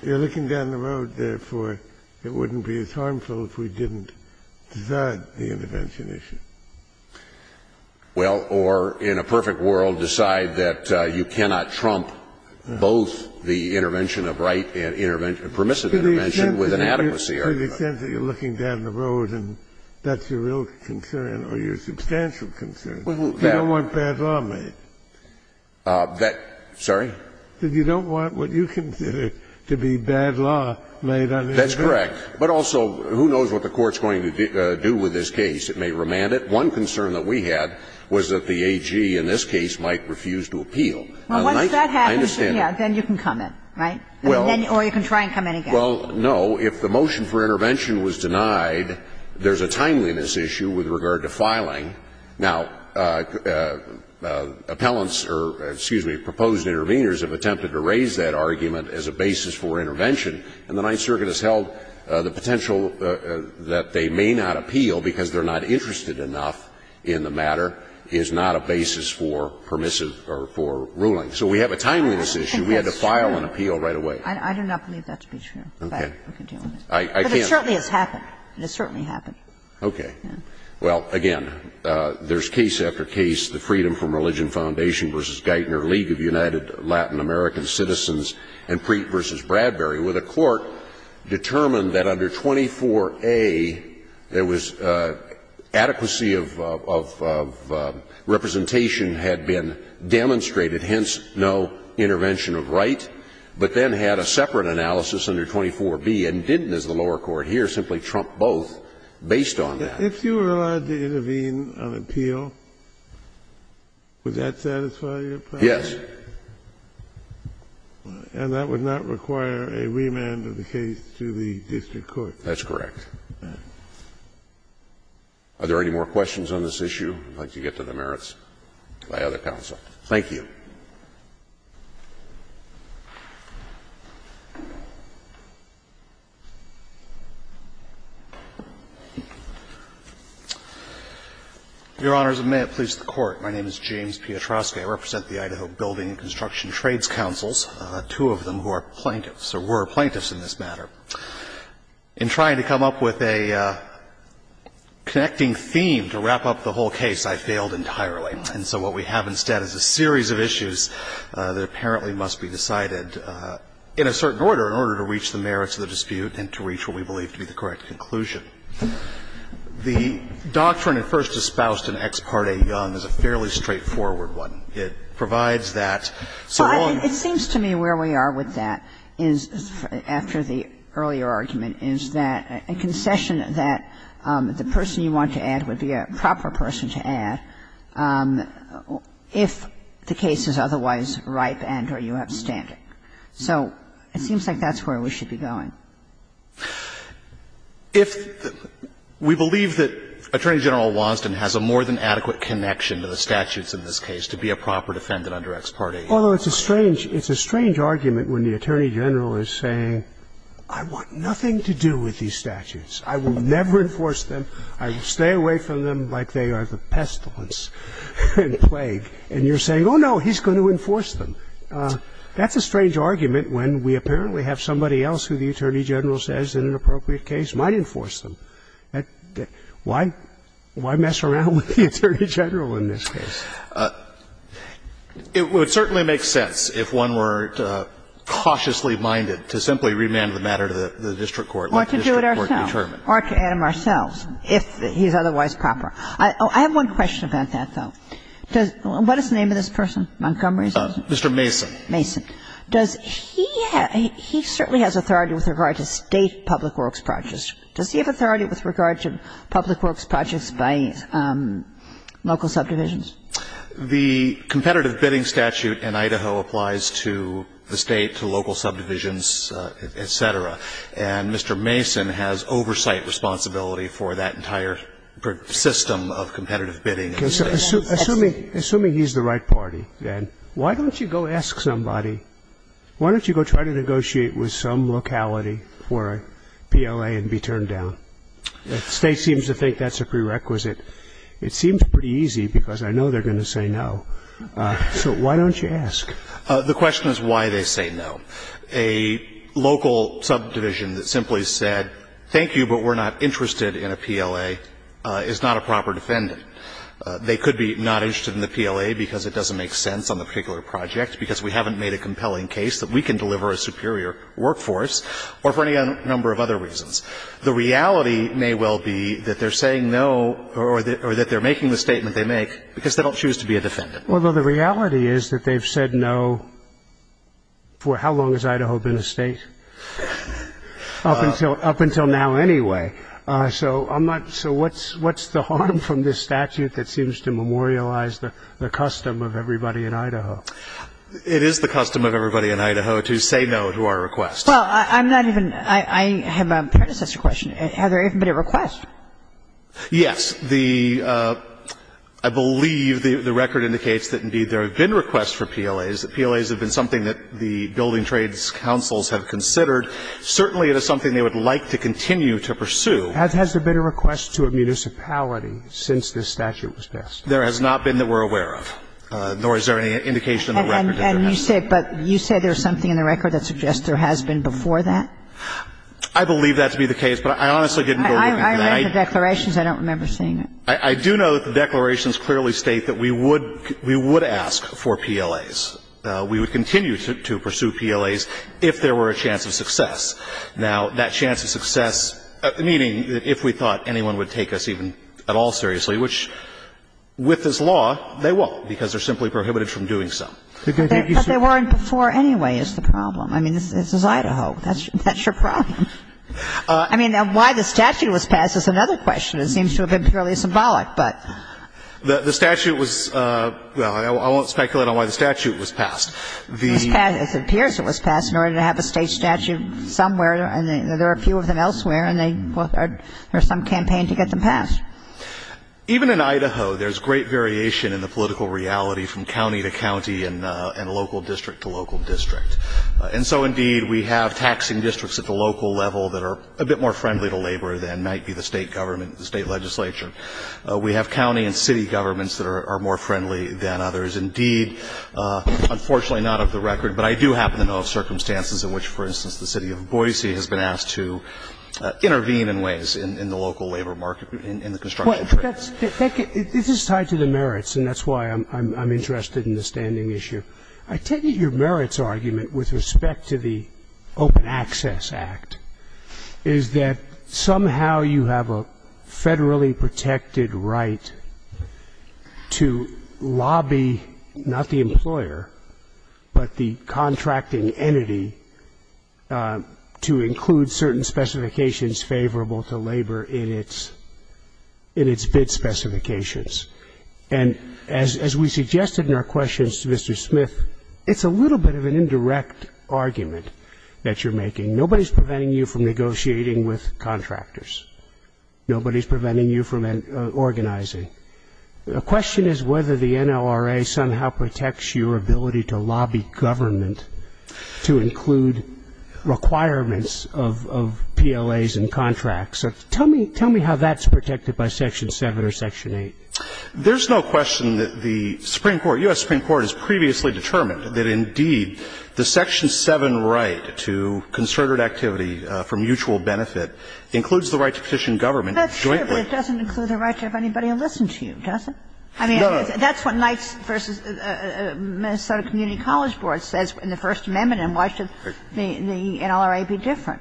You're looking down the road, therefore, it wouldn't be as harmful if we didn't decide the intervention issue. Well, or in a perfect world, decide that you cannot trump both the intervention of right and permissive intervention with inadequacy. To the extent that you're looking down the road and that's your real concern or your substantial concern, you don't want bad law made. Sorry? You don't want what you consider to be bad law made. That's correct. But also, who knows what the Court's going to do with this case. It may remand it. One concern that we had was that the AG in this case might refuse to appeal. Well, once that happens, then you can come in, right? Or you can try and come in again. Well, no. If the motion for intervention was denied, there's a timeliness issue with regard to filing. Now, appellants or, excuse me, proposed interveners have attempted to raise that argument as a basis for intervention, and the Ninth Circuit has held the potential that they may not appeal because they're not interested enough in the matter is not a basis for permissive or for ruling. So we have a timeliness issue. We had to file an appeal right away. I do not believe that to be true. Okay. But it certainly has happened. It certainly happened. Okay. Well, again, there's case after case. The Freedom from Religion Foundation v. Geithner League of United Latin American Citizens and Preet v. Bradbury, where the court determined that under 24A, there was adequacy of representation had been demonstrated, hence no intervention of right, but then had a separate analysis under 24B and didn't, as the lower court hears, simply trump both based on that. If you were allowed to intervene on appeal, would that satisfy your claim? Yes. And that would not require a remand of the case to the district court? That's correct. Are there any more questions on this issue? I'd like to get to the merits by other counsel. Thank you. Your Honors, may it please the Court. My name is James Pietroski. I represent the Idaho Building and Construction Trades Councils, two of them who are plaintiffs, or were plaintiffs in this matter. In trying to come up with a connecting theme to wrap up the whole case, I failed entirely. And so what we have instead is a series of issues that apparently must be decided in a certain order in order to reach the merits of the dispute and to reach what we believe to be the correct conclusion. The doctrine at first espoused in Ex Parte Young is a fairly straightforward one. It provides that for all of us. It seems to me where we are with that is, after the earlier argument, is that a concession that the person you want to add would be a proper person to add if the case is otherwise ripe and or you have standing. So it seems like that's where we should be going. We believe that Attorney General Wansden has a more than adequate connection to the statutes in this case to be a proper defendant under Ex Parte Young. Although it's a strange argument when the Attorney General is saying, I want nothing to do with these statutes. I will never enforce them. I will stay away from them like they are the pestilence in plague. And you're saying, oh, no, he's going to enforce them. That's a strange argument when we apparently have somebody else who the Attorney General says in an appropriate case might enforce them. Why mess around with the Attorney General in this case? It would certainly make sense if one were cautiously minded to simply remand the matter to the district court. Or to do it ourselves. Or to add him ourselves if he's otherwise proper. I have one question about that, though. What is the name of this person, Montgomery? Mr. Mason. Mason. He certainly has authority with regard to state public works projects. Does he have authority with regard to public works projects by local subdivisions? The competitive bidding statute in Idaho applies to the state, to local subdivisions, et cetera. And Mr. Mason has oversight responsibility for that entire system of competitive bidding. Assuming he's the right party, then, why don't you go ask somebody, why don't you go try to negotiate with some locality for a PLA and be turned down? The state seems to think that's a prerequisite. It seems pretty easy because I know they're going to say no. So why don't you ask? The question is why they say no. A local subdivision that simply said thank you but we're not interested in a PLA is not a proper defendant. They could be not interested in the PLA because it doesn't make sense on the particular project, because we haven't made a compelling case that we can deliver a superior workforce, or for any number of other reasons. The reality may well be that they're saying no or that they're making the statement they make because they don't choose to be a defendant. Although the reality is that they've said no for how long has Idaho been a state? Up until now, anyway. So what's the harm from this statute that seems to memorialize the custom of everybody in Idaho? It is the custom of everybody in Idaho to say no to our request. Well, I'm not even, I have a predecessor question. Has there even been a request? Yes. I believe the record indicates that, indeed, there have been requests for PLAs. PLAs have been something that the Building Trades Councils have considered. Certainly, it is something they would like to continue to pursue. Has there been a request to a municipality since this statute was passed? There has not been that we're aware of, nor is there any indication of a record of that. And you say there's something in the record that suggests there has been before that? I read the declarations. I don't remember seeing it. I do know that the declarations clearly state that we would ask for PLAs. We would continue to pursue PLAs if there were a chance of success. Now, that chance of success, meaning if we thought anyone would take us even at all seriously, which with this law, they won't because they're simply prohibited from doing so. But they weren't before, anyway, is the problem. I mean, this is Idaho. That's your problem. I mean, why the statute was passed is another question. It seems to have been fairly symbolic. The statute was, well, I won't speculate on why the statute was passed. It appears it was passed in order to have a state statute somewhere, and there are a few of them elsewhere, and there's some campaign to get them passed. Even in Idaho, there's great variation in the political reality from county to county and local district to local district. And so, indeed, we have taxing districts at the local level that are a bit more friendly to labor than might be the state government, the state legislature. We have county and city governments that are more friendly than others. Indeed, unfortunately, not off the record, but I do happen to know of circumstances in which, for instance, the city of Boise has been asked to intervene in ways in the local labor market, in the construction trades. This is tied to the merits, and that's why I'm interested in the standing issue. I take it your merits argument, with respect to the Open Access Act, is that somehow you have a federally protected right to lobby not the employer, but the contracting entity to include certain specifications favorable to labor in its bid specifications. And as we suggested in our questions to Mr. Smith, it's a little bit of an indirect argument that you're making. Nobody's preventing you from negotiating with contractors. Nobody's preventing you from organizing. The question is whether the NLRA somehow protects your ability to lobby government to include requirements of PLAs and contracts. Tell me how that's protected by Section 7 or Section 8. There's no question that the Supreme Court, U.S. Supreme Court, has previously determined that indeed the Section 7 right to concerted activity for mutual benefit includes the right to petition government jointly. That's true, but it doesn't include the right to have anybody listen to you, does it? No. I mean, that's what the Minnesota Community College Board says in the First Amendment, and why should the NLRA be different?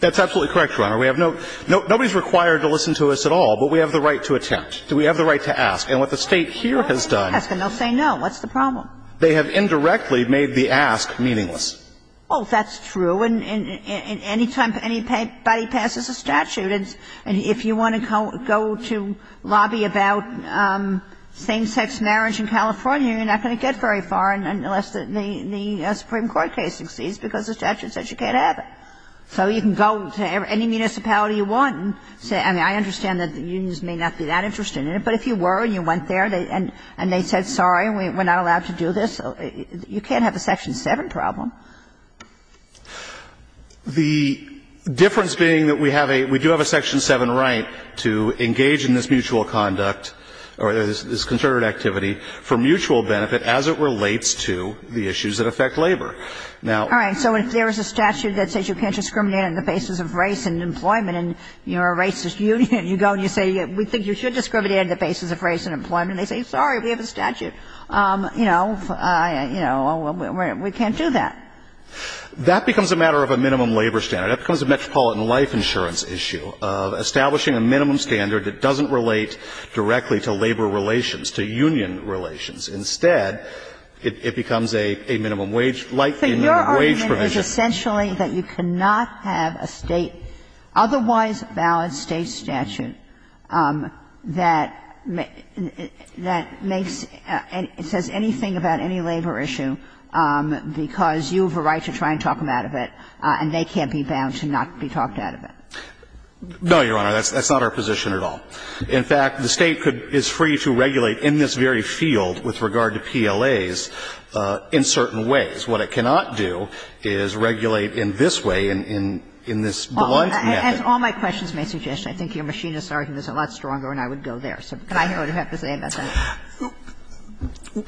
That's absolutely correct, Your Honor. Nobody's required to listen to us at all, but we have the right to attempt. We have the right to ask. And what the state here has done. They'll say no. What's the problem? They have indirectly made the ask meaningless. Oh, that's true. And any time anybody passes a statute, if you want to go to lobby about same-sex marriage in California, you're not going to get very far unless the Supreme Court case exceeds because the statute says you can't have it. So you can go to any municipality you want. I mean, I understand that the unions may not be that interested in it, but if you were and you went there and they said, sorry, we're not allowed to do this, you can't have a Section 7 problem. The difference being that we do have a Section 7 right to engage in this mutual conduct or this concerted activity for mutual benefit as it relates to the issues that affect labor. All right. So if there's a statute that says you can't discriminate on the basis of race and employment and you're a racist union and you go and you say we think you should discriminate on the basis of race and employment, they say, sorry, we have a statute. You know, we can't do that. That becomes a matter of a minimum labor standard. That becomes a metropolitan life insurance issue of establishing a minimum standard that doesn't relate directly to labor relations, to union relations. Instead, it becomes a minimum wage, like the minimum wage provision. But your argument is essentially that you cannot have a state, otherwise valid state statute, that says anything about any labor issue because you have a right to try and talk them out of it and they can't be found to not be talked out of it. No, Your Honor. That's not our position at all. In fact, the state is free to regulate in this very field with regard to PLAs in certain ways. What it cannot do is regulate in this way, in this blunt method. As all my questions may suggest, I think your machinist argument is a lot stronger and I would go there. So I don't know what you have to say about that.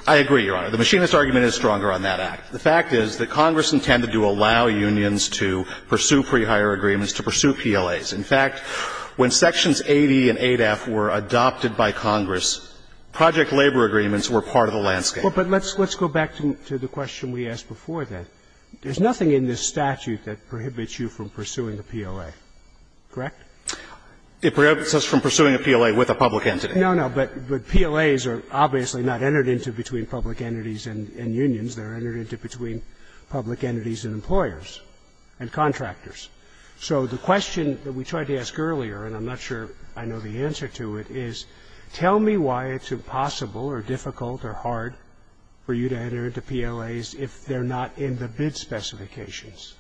I agree, Your Honor. The machinist argument is stronger on that act. The fact is that Congress intended to allow unions to pursue pre-hire agreements, to pursue PLAs. In fact, when Sections 80 and 8-F were adopted by Congress, project labor agreements were part of the landscape. But let's go back to the question we asked before then. There's nothing in this statute that prohibits you from pursuing a PLA, correct? It prohibits us from pursuing a PLA with a public entity. No, no, but PLAs are obviously not entered into between public entities and unions. They're entered into between public entities and employers and contractors. So the question that we tried to ask earlier, and I'm not sure I know the answer to it, is tell me why it's impossible or difficult or hard for you to enter into PLAs if they're not in the bid specifications.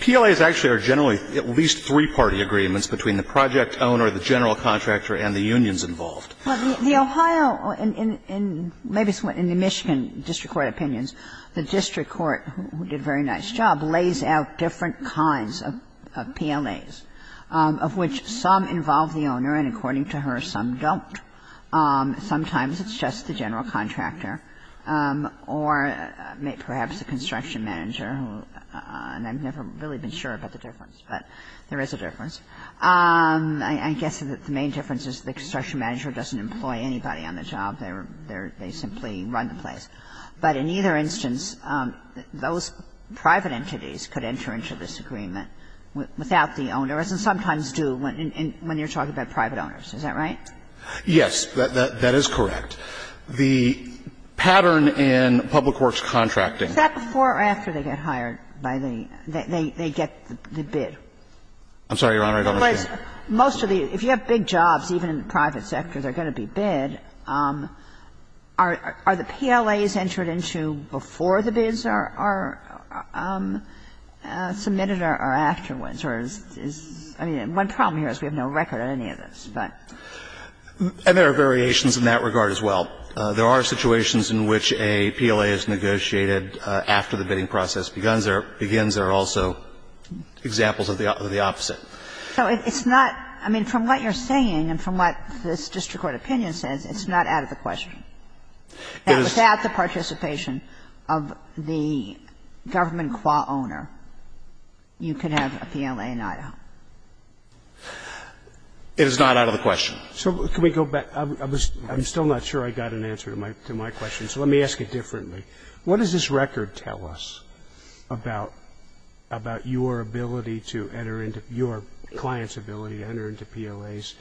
PLAs actually are generally at least three-party agreements between the project owner, the general contractor, and the unions involved. Well, the Ohio and maybe in the Michigan district court opinions, the district court, who did a very nice job, lays out different kinds of PLAs, of which some involve the owner and, according to her, some don't. Sometimes it's just the general contractor or perhaps the construction manager, and I've never really been sure about the difference, but there is a difference. I guess the main difference is the construction manager doesn't employ anybody on the job. They simply run the place. But in either instance, those private entities could enter into this agreement without the owners and sometimes do when you're talking about private owners. Is that right? Yes, that is correct. The pattern in public works contracting ---- Is that before or after they get hired by the ñ they get the bid? I'm sorry, Your Honor, I don't understand. Most of the ñ if you have big jobs, even in the private sector, they're going to be bid. Are the PLAs entered into before the bids are submitted or afterwards? I mean, one problem here is we have no record of any of this, but. And there are variations in that regard as well. There are situations in which a PLA is negotiated after the bidding process begins. There are also examples of the opposite. So it's not ñ I mean, from what you're saying and from what this district court opinion says, it's not out of the question. It is. And without the participation of the government QA owner, you can have a PLA in Iowa. It is not out of the question. So can we go back? I'm still not sure I got an answer to my question, so let me ask it differently. What does this record tell us about your ability to enter into ñ your client's ability to enter into PLAs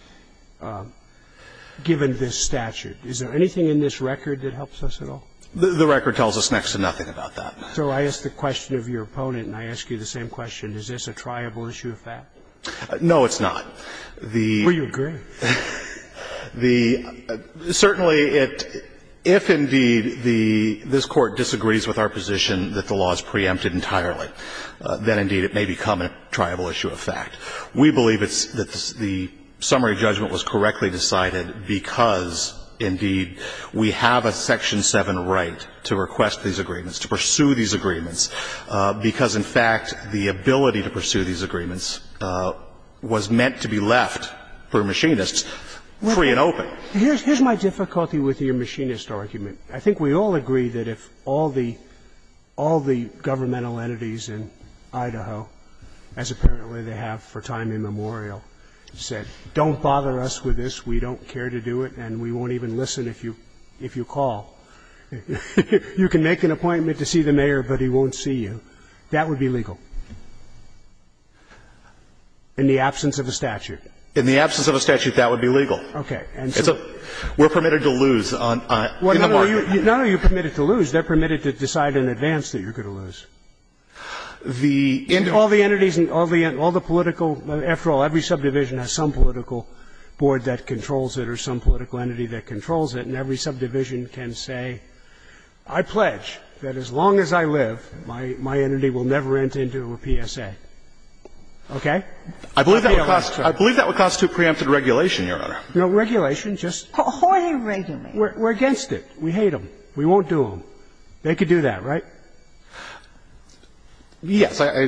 given this statute? Is there anything in this record that helps us at all? The record tells us next to nothing about that. So I ask the question of your opponent, and I ask you the same question. Is this a triable issue of fact? No, it's not. Well, you agree. Certainly, if, indeed, this court disagrees with our position that the law is preempted entirely, then, indeed, it may become a triable issue of fact. We believe that the summary judgment was correctly decided because, indeed, we have a Section 7 right to request these agreements, to pursue these agreements, because, in fact, the ability to pursue these agreements was meant to be left for machinists free and open. Here's my difficulty with your machinist argument. I think we all agree that if all the governmental entities in Idaho, as apparently they have for time immemorial, said, don't bother us with this, we don't care to do it, and we won't even listen if you call. You can make an appointment to see the mayor, but he won't see you. That would be legal in the absence of a statute. In the absence of a statute, that would be legal. Okay. We're permitted to lose. No, you're permitted to lose. They're permitted to decide in advance that you're going to lose. All the entities and all the political – after all, every subdivision has some political board that controls it or some political entity that controls it, and every subdivision can say, I pledge that as long as I live, my entity will never enter into a PSA. Okay? I believe that would constitute preempted regulation, Your Honor. No, regulation, just – Horny regulation. We're against it. We hate them. We won't do them. They could do that, right? Yes. I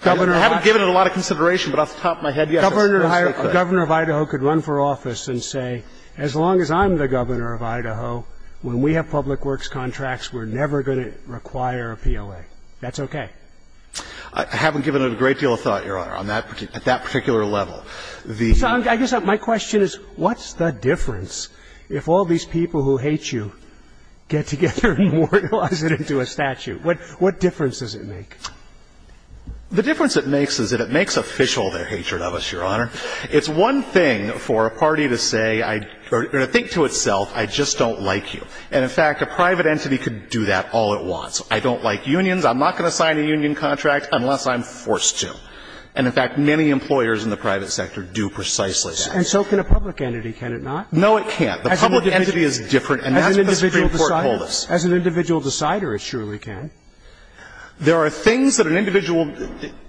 haven't given it a lot of consideration, but off the top of my head, yes. A governor of Idaho could run for office and say, as long as I'm the governor of Idaho, when we have public works contracts, we're never going to require a PLA. That's okay. I haven't given it a great deal of thought, Your Honor, at that particular level. I guess my question is, what's the difference if all these people who hate you get together and immortalize it into a statute? What difference does it make? The difference it makes is that it makes official their hatred of us, Your Honor. It's one thing for a party to say, or to think to itself, I just don't like you. And, in fact, a private entity could do that all it wants. I don't like unions. I'm not going to sign a union contract unless I'm forced to. And, in fact, many employers in the private sector do precisely that. And so can a public entity, can it not? No, it can't. The public entity is different, and that's the Supreme Court hold us. As an individual decider, it surely can. There are things that an individual,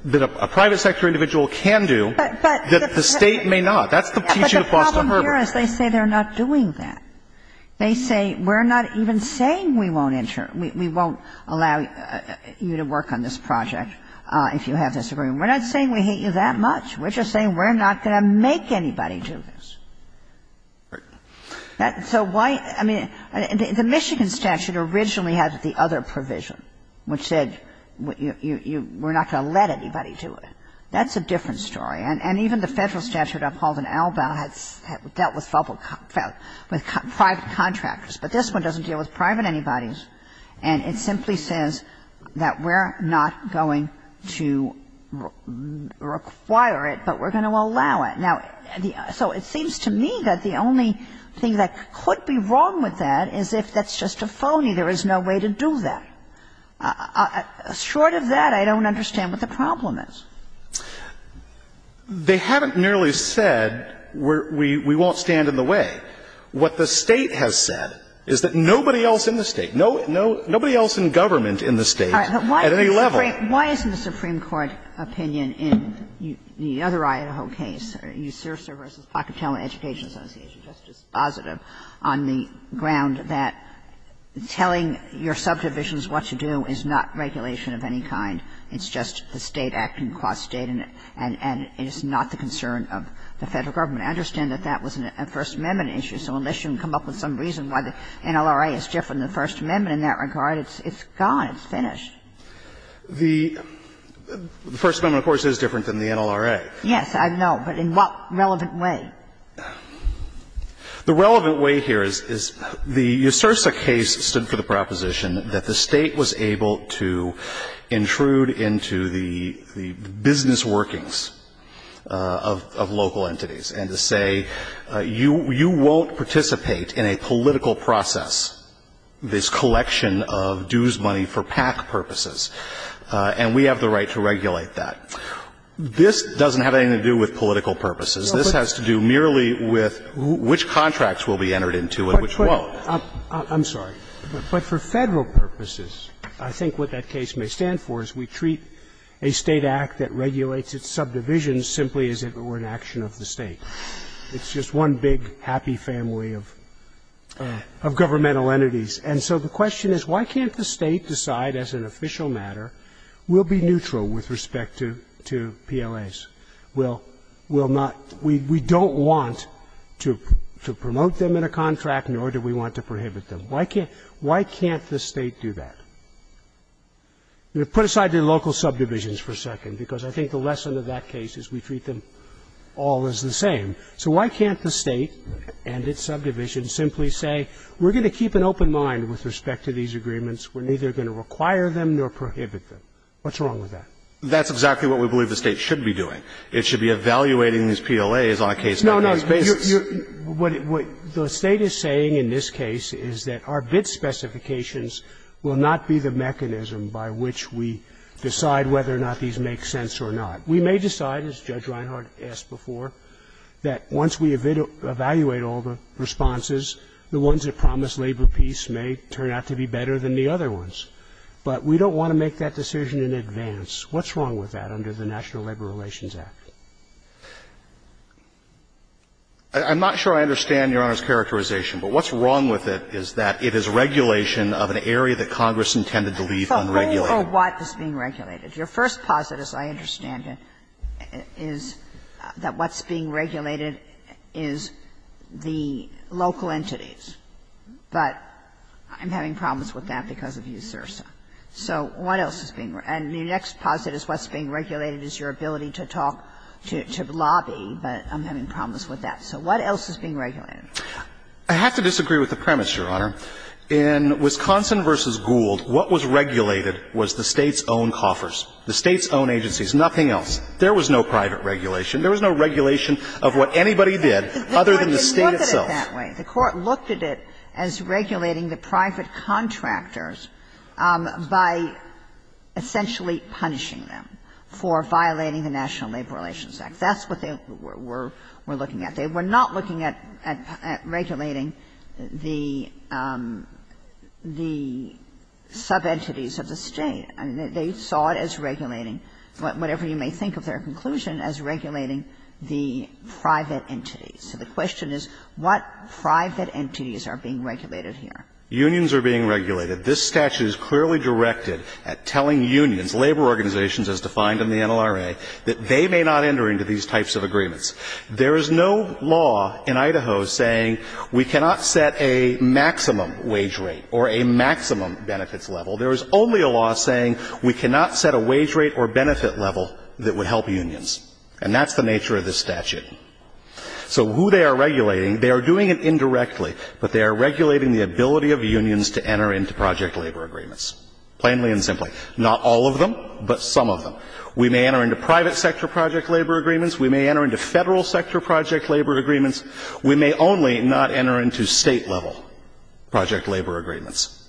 that a private sector individual can do that the state may not. That could teach you to cause some harm. But the problem here is they say they're not doing that. They say, we're not even saying we won't allow you to work on this project if you have this agreement. We're not saying we hate you that much. We're just saying we're not going to make anybody do this. Right. So why, I mean, the Michigan statute originally has the other provision, which said we're not going to let anybody do it. That's a different story. And even the federal statute I've called an ALBA dealt with five contractors. But this one doesn't deal with private entities. And it simply says that we're not going to require it, but we're going to allow it. Now, so it seems to me that the only thing that could be wrong with that is if that's just a phony. There is no way to do that. Short of that, I don't understand what the problem is. They haven't nearly said we won't stand in the way. What the state has said is that nobody else in the state, nobody else in government in the state at any level. Why isn't the Supreme Court's opinion in the other IOHO case, Eusteros versus Pocatello Education Association, just as positive on the ground that telling your subdivisions what to do is not regulation of any kind. It's just the state acting across state, and it's not the concern of the federal government. I understand that that was a First Amendment issue. So unless you can come up with some reason why the NLRA is different than the First Amendment in that regard, it's gone. It's finished. The First Amendment, of course, is different than the NLRA. Yes, I know, but in what relevant way? The relevant way here is the Eusteros case stood for the proposition that the state was able to intrude into the business workings of local entities and to say you won't participate in a political process, this collection of dues money for PAC purposes, and we have the right to regulate that. This doesn't have anything to do with political purposes. This has to do merely with which contracts will be entered into and which won't. I'm sorry, but for federal purposes, I think what that case may stand for is we treat a state act that regulates its subdivisions simply as if it were an action of the state. It's just one big happy family of governmental entities. And so the question is why can't the state decide as an official matter we'll be neutral with respect to PLAs? We don't want to promote them in a contract, nor do we want to prohibit them. Why can't the state do that? Put aside the local subdivisions for a second, because I think the lesson of that case is we treat them all as the same. So why can't the state and its subdivisions simply say we're going to keep an open mind with respect to these agreements. We're neither going to require them nor prohibit them. What's wrong with that? That's exactly what we believe the state should be doing. It should be evaluating these PLAs on a case-by-case basis. No, no. What the state is saying in this case is that our bid specifications will not be the mechanism by which we decide whether or not these make sense or not. We may decide, as Judge Reinhart asked before, that once we evaluate all the responses, the ones that promise labor peace may turn out to be better than the other ones. But we don't want to make that decision in advance. What's wrong with that under the National Labor Relations Act? I'm not sure I understand Your Honor's characterization, but what's wrong with it is that it is regulation of an area that Congress intended to leave unregulated. Your first positive, as I understand it, is that what's being regulated is the local entities. But I'm having problems with that because of you, Sirsa. So what else is being regulated? And your next positive is what's being regulated is your ability to talk to the lobby, but I'm having problems with that. So what else is being regulated? I have to disagree with the premise, Your Honor. In Wisconsin v. Gould, what was regulated was the state's own coffers, the state's own agencies, nothing else. There was no private regulation. There was no regulation of what anybody did other than the state itself. The court looked at it as regulating the private contractors by essentially punishing them for violating the National Labor Relations Act. That's what they were looking at. They were not looking at regulating the sub-entities of the state. They saw it as regulating, whatever you may think of their conclusion, as regulating the private entities. So the question is what private entities are being regulated here? Unions are being regulated. This statute is clearly directed at telling unions, labor organizations as defined in the NLRA, that they may not enter into these types of agreements. There is no law in Idaho saying we cannot set a maximum wage rate or a maximum benefits level. There is only a law saying we cannot set a wage rate or benefit level that would help unions. And that's the nature of this statute. So who they are regulating, they are doing it indirectly, but they are regulating the ability of unions to enter into project labor agreements. Plainly and simply. Not all of them, but some of them. We may enter into private sector project labor agreements. We may enter into federal sector project labor agreements. We may only not enter into state level project labor agreements.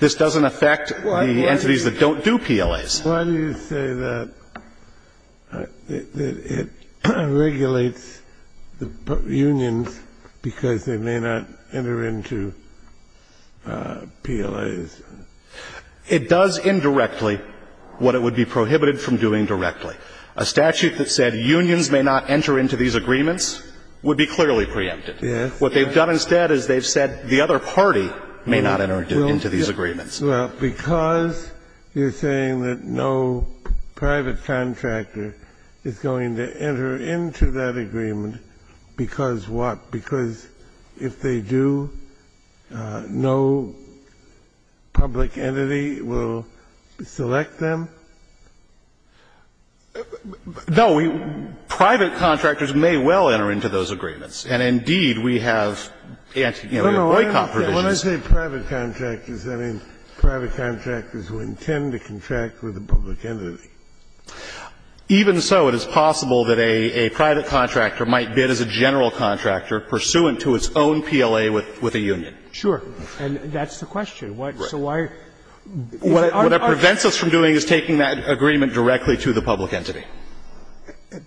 This doesn't affect the entities that don't do PLAs. Why do you say that it regulates unions because they may not enter into PLAs? It does indirectly what it would be prohibited from doing directly. A statute that said unions may not enter into these agreements would be clearly preempted. What they've done instead is they've said the other party may not enter into these agreements. Well, because you're saying that no private contractor is going to enter into that agreement, because what? Because if they do, no public entity will select them? No. Private contractors may well enter into those agreements. And, indeed, we have ANSI, you know, OICOP provisions. When I say private contractors, I mean private contractors who intend to contract with a public entity. Even so, it is possible that a private contractor might bid as a general contractor pursuant to its own PLA with a union. Sure. And that's the question. Right. What it prevents us from doing is taking that agreement directly to the public entity.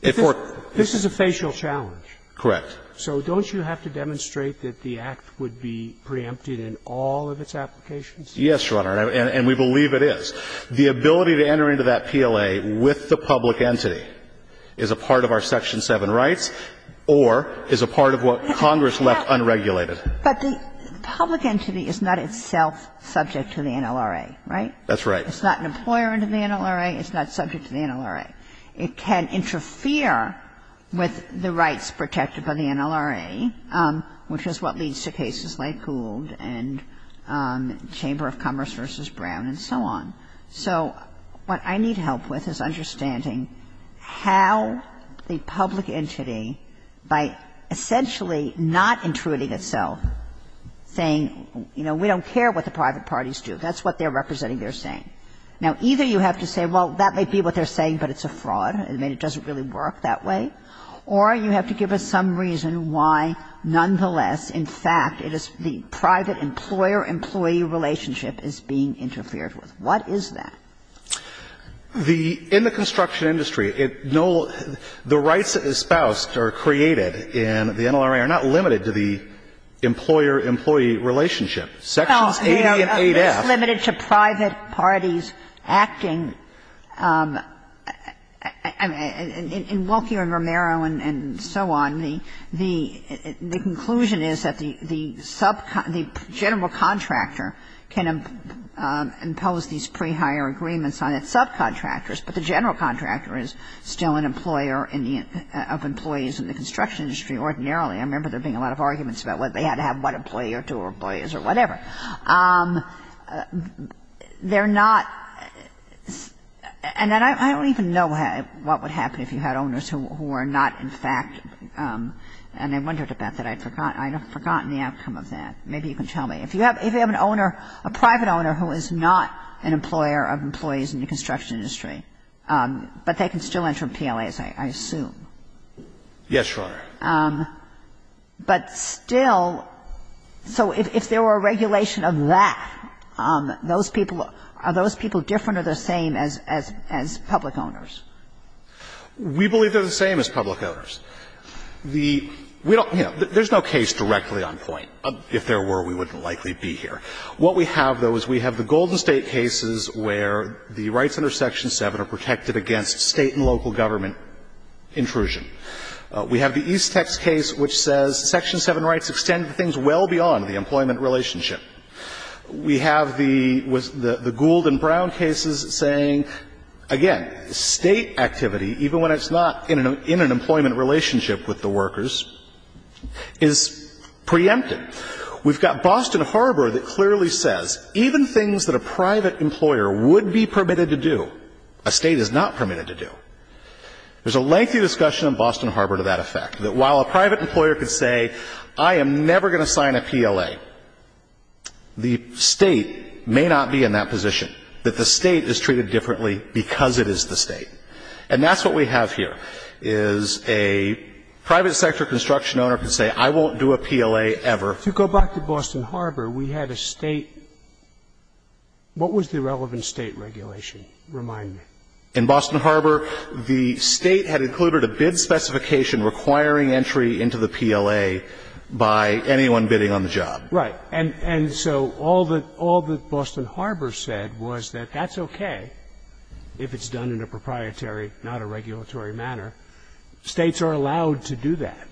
This is a facial challenge. Correct. So don't you have to demonstrate that the Act would be preempted in all of its applications? Yes, Your Honor, and we believe it is. The ability to enter into that PLA with the public entity is a part of our Section 7 rights or is a part of what Congress left unregulated. But the public entity is not itself subject to the NLRA, right? That's right. It's not an employer under the NLRA. It's not subject to the NLRA. It can interfere with the rights protected by the NLRA, which is what leads to cases like Hould and Chamber of Commerce v. Brown and so on. So what I need help with is understanding how the public entity, by essentially not intruding itself, saying, you know, we don't care what the private parties do. That's what they're representing they're saying. Now, either you have to say, well, that may be what they're saying, but it's a fraud, and it doesn't really work that way, or you have to give us some reason why, nonetheless, in fact, the private employer-employee relationship is being interfered with. What is that? In the construction industry, the rights espoused are created in the NLRA are not limited to the employer-employee relationship. Section 8A and 8F. It's not limited to private parties acting in Wilkie and Romero and so on. The conclusion is that the general contractor can impose these pre-hire agreements on its subcontractors, but the general contractor is still an employer of employees in the construction industry ordinarily. I remember there being a lot of arguments about whether they had to have one employee or two employees or whatever. They're not, and I don't even know what would happen if you had owners who were not in fact, and I wondered about that, I'd forgotten the outcome of that. Maybe you can tell me. If you have an owner, a private owner who is not an employer of employees in the construction industry, but they can still enter PLAs, I assume. Yes, Your Honor. But still, so if there were a regulation of that, are those people different or the same as public owners? We believe they're the same as public owners. There's no case directly on point. If there were, we wouldn't likely be here. What we have, though, is we have the Golden State cases where the rights under Section 7 are protected against state and local government intrusion. We have the East Tech case which says Section 7 rights extend to things well beyond the employment relationship. We have the Gould and Brown cases saying, again, state activity, even when it's not in an employment relationship with the workers, is preempted. We've got Boston and Farber that clearly says, even things that a private employer would be permitted to do, a state is not permitted to do. There's a lengthy discussion on Boston and Farber to that effect, that while a private employer could say, I am never going to sign a PLA, the state may not be in that position. But the state is treated differently because it is the state. And that's what we have here is a private sector construction owner could say, I won't do a PLA ever. To go back to Boston and Farber, we had a state. What was the relevant state regulation? Remind me. In Boston and Farber, the state had included a bid specification requiring entry into the PLA by anyone bidding on the job. Right. And so all that Boston and Farber said was that that's okay if it's done in a proprietary, not a regulatory manner. States are allowed to do that.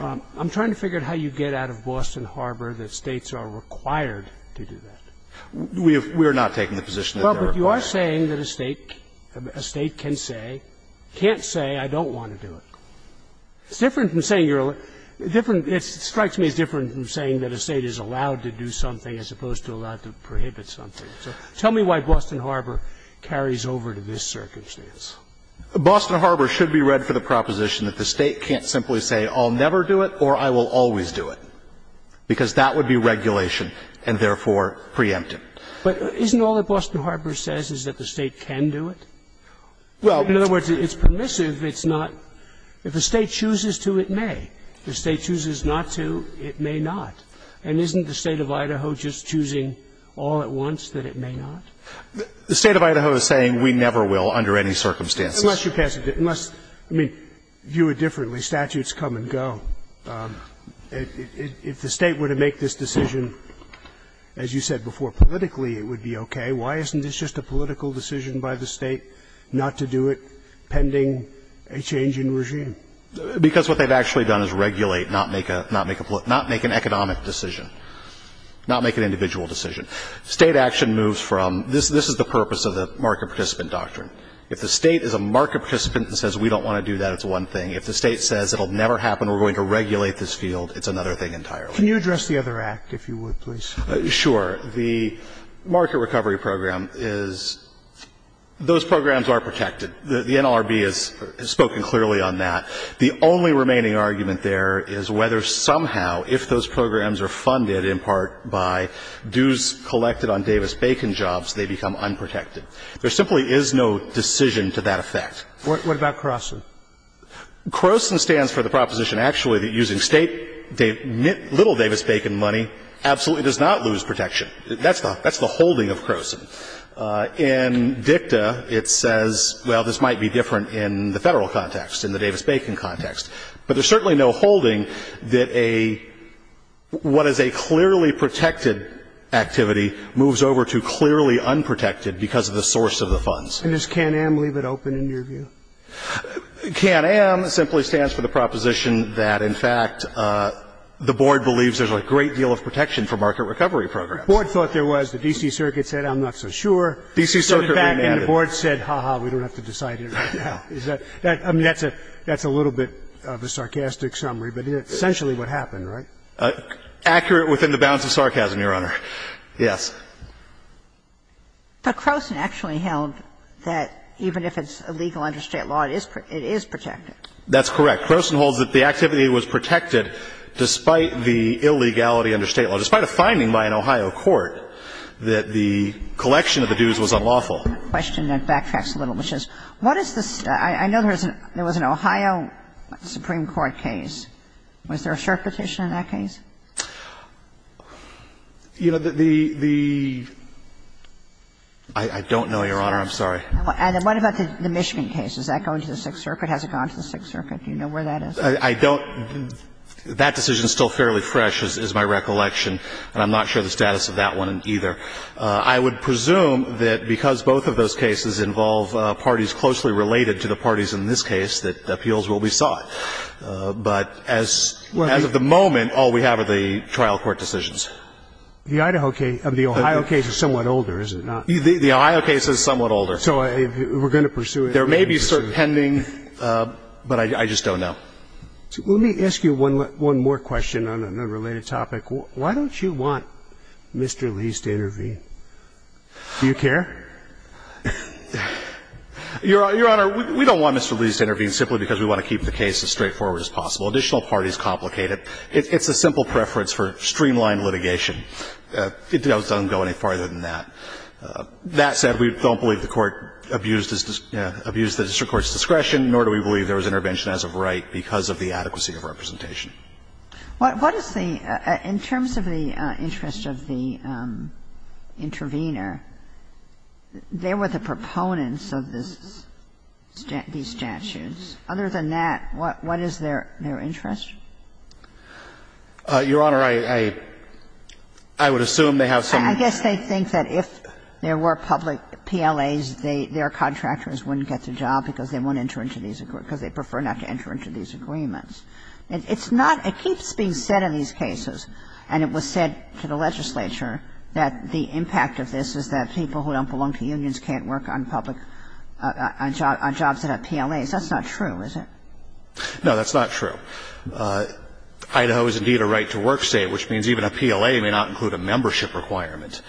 I'm trying to figure out how you get out of Boston and Farber that states are required to do that. We are not taking the position that they're required. But you are saying that a state can say, can't say, I don't want to do it. It's different from saying you're, it strikes me as different from saying that a state is allowed to do something as opposed to allowed to prohibit something. So tell me why Boston and Farber carries over to this circumstance. Boston and Farber should be read for the proposition that the state can't simply say I'll never do it or I will always do it. Because that would be regulation and therefore preemptive. But isn't all that Boston and Farber says is that the state can do it? Well, in other words, it's permissive. It's not, if the state chooses to, it may. If the state chooses not to, it may not. And isn't the state of Idaho just choosing all at once that it may not? The state of Idaho is saying we never will under any circumstances. Unless, I mean, view it differently. Statutes come and go. If the state were to make this decision, as you said before, politically it would be okay. Why isn't this just a political decision by the state not to do it pending a change in regime? Because what they've actually done is regulate, not make an economic decision, not make an individual decision. State action moves from this is the purpose of the market participant doctrine. If the state is a market participant and says we don't want to do that, it's one thing. If the state says it will never happen, we're going to regulate this field, it's another thing entirely. Can you address the other act, if you would, please? Sure. The market recovery program is, those programs are protected. The NLRB has spoken clearly on that. The only remaining argument there is whether somehow if those programs are funded in part by dues collected on Davis-Bacon jobs, they become unprotected. There simply is no decision to that effect. What about CROSN? CROSN stands for the proposition actually that using little Davis-Bacon money absolutely does not lose protection. That's the holding of CROSN. In DICTA, it says, well, this might be different in the federal context, in the Davis-Bacon context. But there's certainly no holding that a, what is a clearly protected activity moves over to clearly unprotected because of the source of the funds. And does CAN-AM leave it open in your view? CAN-AM simply stands for the proposition that, in fact, the board believes there's a great deal of protection for market recovery programs. The board thought there was. The D.C. Circuit said, I'm not so sure. And the board said, ha-ha, we don't have to decide here. I mean, that's a little bit of a sarcastic summary. But essentially what happened, right? Accurate within the bounds of sarcasm, Your Honor. Yes. But CROSN actually held that even if it's illegal under state law, it is protected. That's correct. CROSN holds that the activity was protected despite the illegality under state law. So despite a finding by an Ohio court that the collection of the dues was unlawful. My question backtracks a little. What is the, I know there was an Ohio Supreme Court case. Was there a sharp position in that case? You know, the, the, I don't know, Your Honor. I'm sorry. And what about the Michigan case? Has that gone to the Sixth Circuit? Has it gone to the Sixth Circuit? Do you know where that is? That decision is still fairly fresh is my recollection. I'm not sure of the status of that one either. I would presume that because both of those cases involve parties closely related to the parties in this case, that appeals will be sought. But as of the moment, all we have are the trial court decisions. The Idaho case, the Ohio case is somewhat older, is it not? The Ohio case is somewhat older. So we're going to pursue it. There may be some pending, but I just don't know. Let me ask you one more question on an unrelated topic. Why don't you want Mr. Lee's to intervene? Do you care? Your Honor, we don't want Mr. Lee's to intervene simply because we want to keep the case as straightforward as possible. Additional parties complicate it. It's a simple preference for streamlined litigation. It doesn't go any farther than that. That said, we don't believe the court abused the district court's discretion, nor do we believe there was intervention as of right because of the adequacy of representation. In terms of the interest of the intervener, there were the proponents of these statutes. Other than that, what is their interest? Your Honor, I would assume they have some... I guess they think that if there were public PLAs, their contractors wouldn't get the job because they prefer not to enter into these agreements. And it's not, it keeps being said in these cases, and it was said to the legislature, that the impact of this is that people who don't belong to unions can't work on jobs that have PLAs. That's not true, is it? No, that's not true. Idaho is indeed a right-to-work state, which means even a PLA may not include a membership requirement.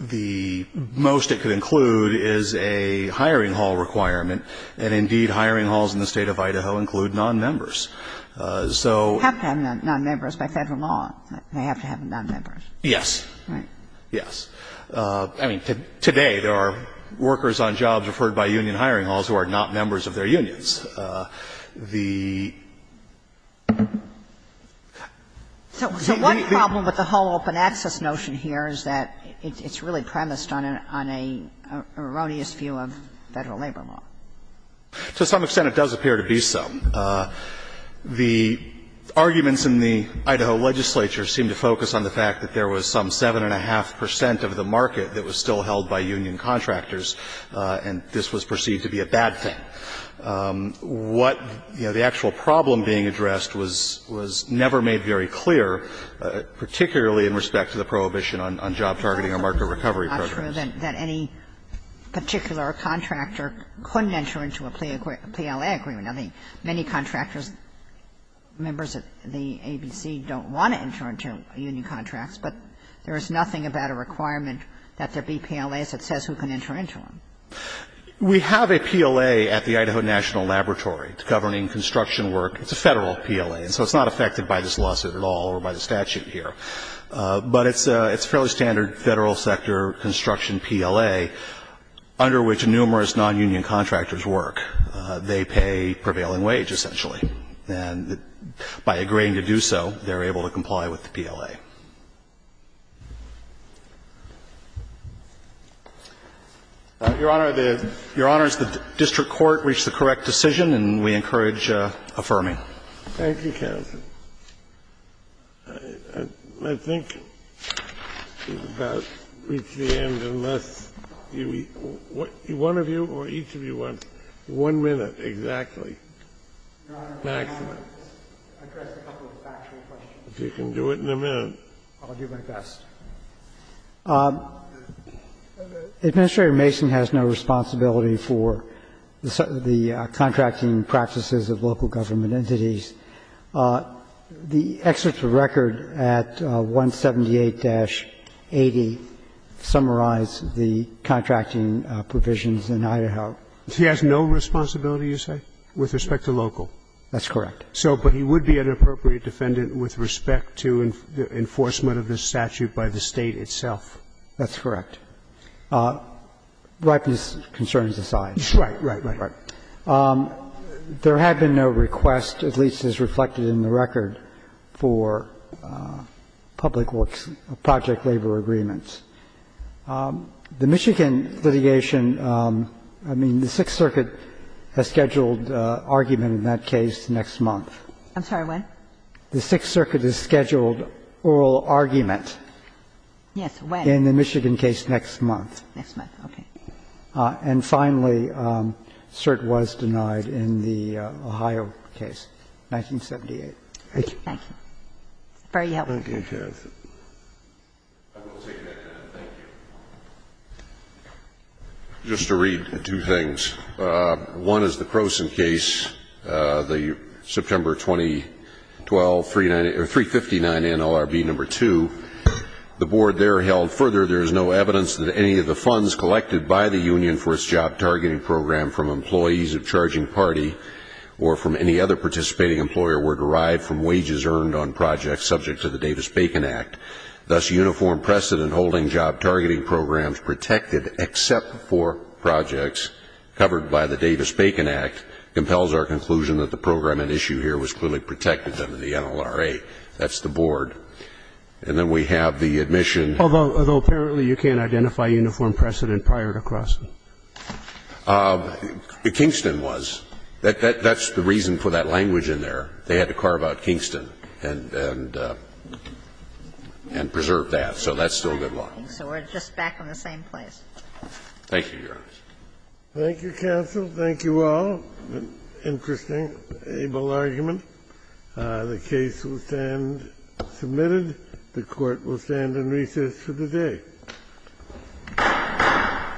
The most it could include is a hiring hall requirement, and indeed hiring halls in the state of Idaho include non-members. They have to have non-members by federal law. They have to have non-members. Yes. Right. Yes. Today there are workers on jobs referred by union hiring halls who are not members of their unions. So one problem with the whole open access notion here is that it's really premised on an erroneous view of federal labor law. To some extent it does appear to be so. The arguments in the Idaho legislature seem to focus on the fact that there was some 7.5 percent of the market that was still held by union contractors, and this was perceived to be a bad thing. What, you know, the actual problem being addressed was never made very clear, particularly in respect to the prohibition on job targeting or market recovery programs. It's true that any particular contractor couldn't enter into a PLA agreement. I think many contractors, members of the agency, don't want to enter into union contracts, but there is nothing about a requirement that there be PLA that says who can enter into them. We have a PLA at the Idaho National Laboratory. It's governing construction work. It's a federal PLA, and so it's not affected by this lawsuit at all or by the statute here. But it's a fairly standard federal sector construction PLA under which numerous nonunion contractors work. They pay prevailing wage, essentially, and by agreeing to do so, they're able to comply with the PLA. Your Honor, the district court reached the correct decision, and we encourage affirming. Thank you, counsel. I think we've about reached the end, unless one of you or each of you wants one minute exactly. Your Honor, I have a couple of factual questions. If you can do it in a minute. I'll do my best. Administrator Mason has no responsibility for the contracting practices of local government entities. The excerpts of record at 178-80 summarize the contracting provisions in Idaho. He has no responsibility, you say, with respect to local? That's correct. But he would be an appropriate defendant with respect to the enforcement of this statute by the State itself? That's correct. Right these concerns aside. Right, right, right. There have been no requests, at least as reflected in the record, for public works project labor agreements. The Michigan litigation, I mean, the Sixth Circuit has scheduled argument in that case next month. I'm sorry, when? The Sixth Circuit has scheduled oral argument. Yes, when? In the Michigan case next month. Next month, okay. And finally, cert was denied in the Ohio case, 1978. Thank you. Thank you. Very helpful. Just to read two things. One is the Croson case, the September 2012 359 NLRB No. 2. The board there held further there is no evidence that any of the funds collected by the union for its job targeting program from employees of charging party or from any other participating employer were derived from wages earned on projects subject to the Davis-Bacon Act. Thus, uniform precedent holding job targeting programs protected except for projects covered by the Davis-Bacon Act compels our conclusion that the program at issue here was clearly protected under the NLRA. That's the board. And then we have the admission. Although apparently you can't identify uniform precedent prior to Croson. The Kingston was. That's the reason for that language in there. They had to carve out Kingston and preserve that. So that's still good law. So we're just back in the same place. Thank you, Your Honor. Thank you, counsel. Thank you all. Interesting, able argument. The case will stand submitted. The court will stand in recess for the day.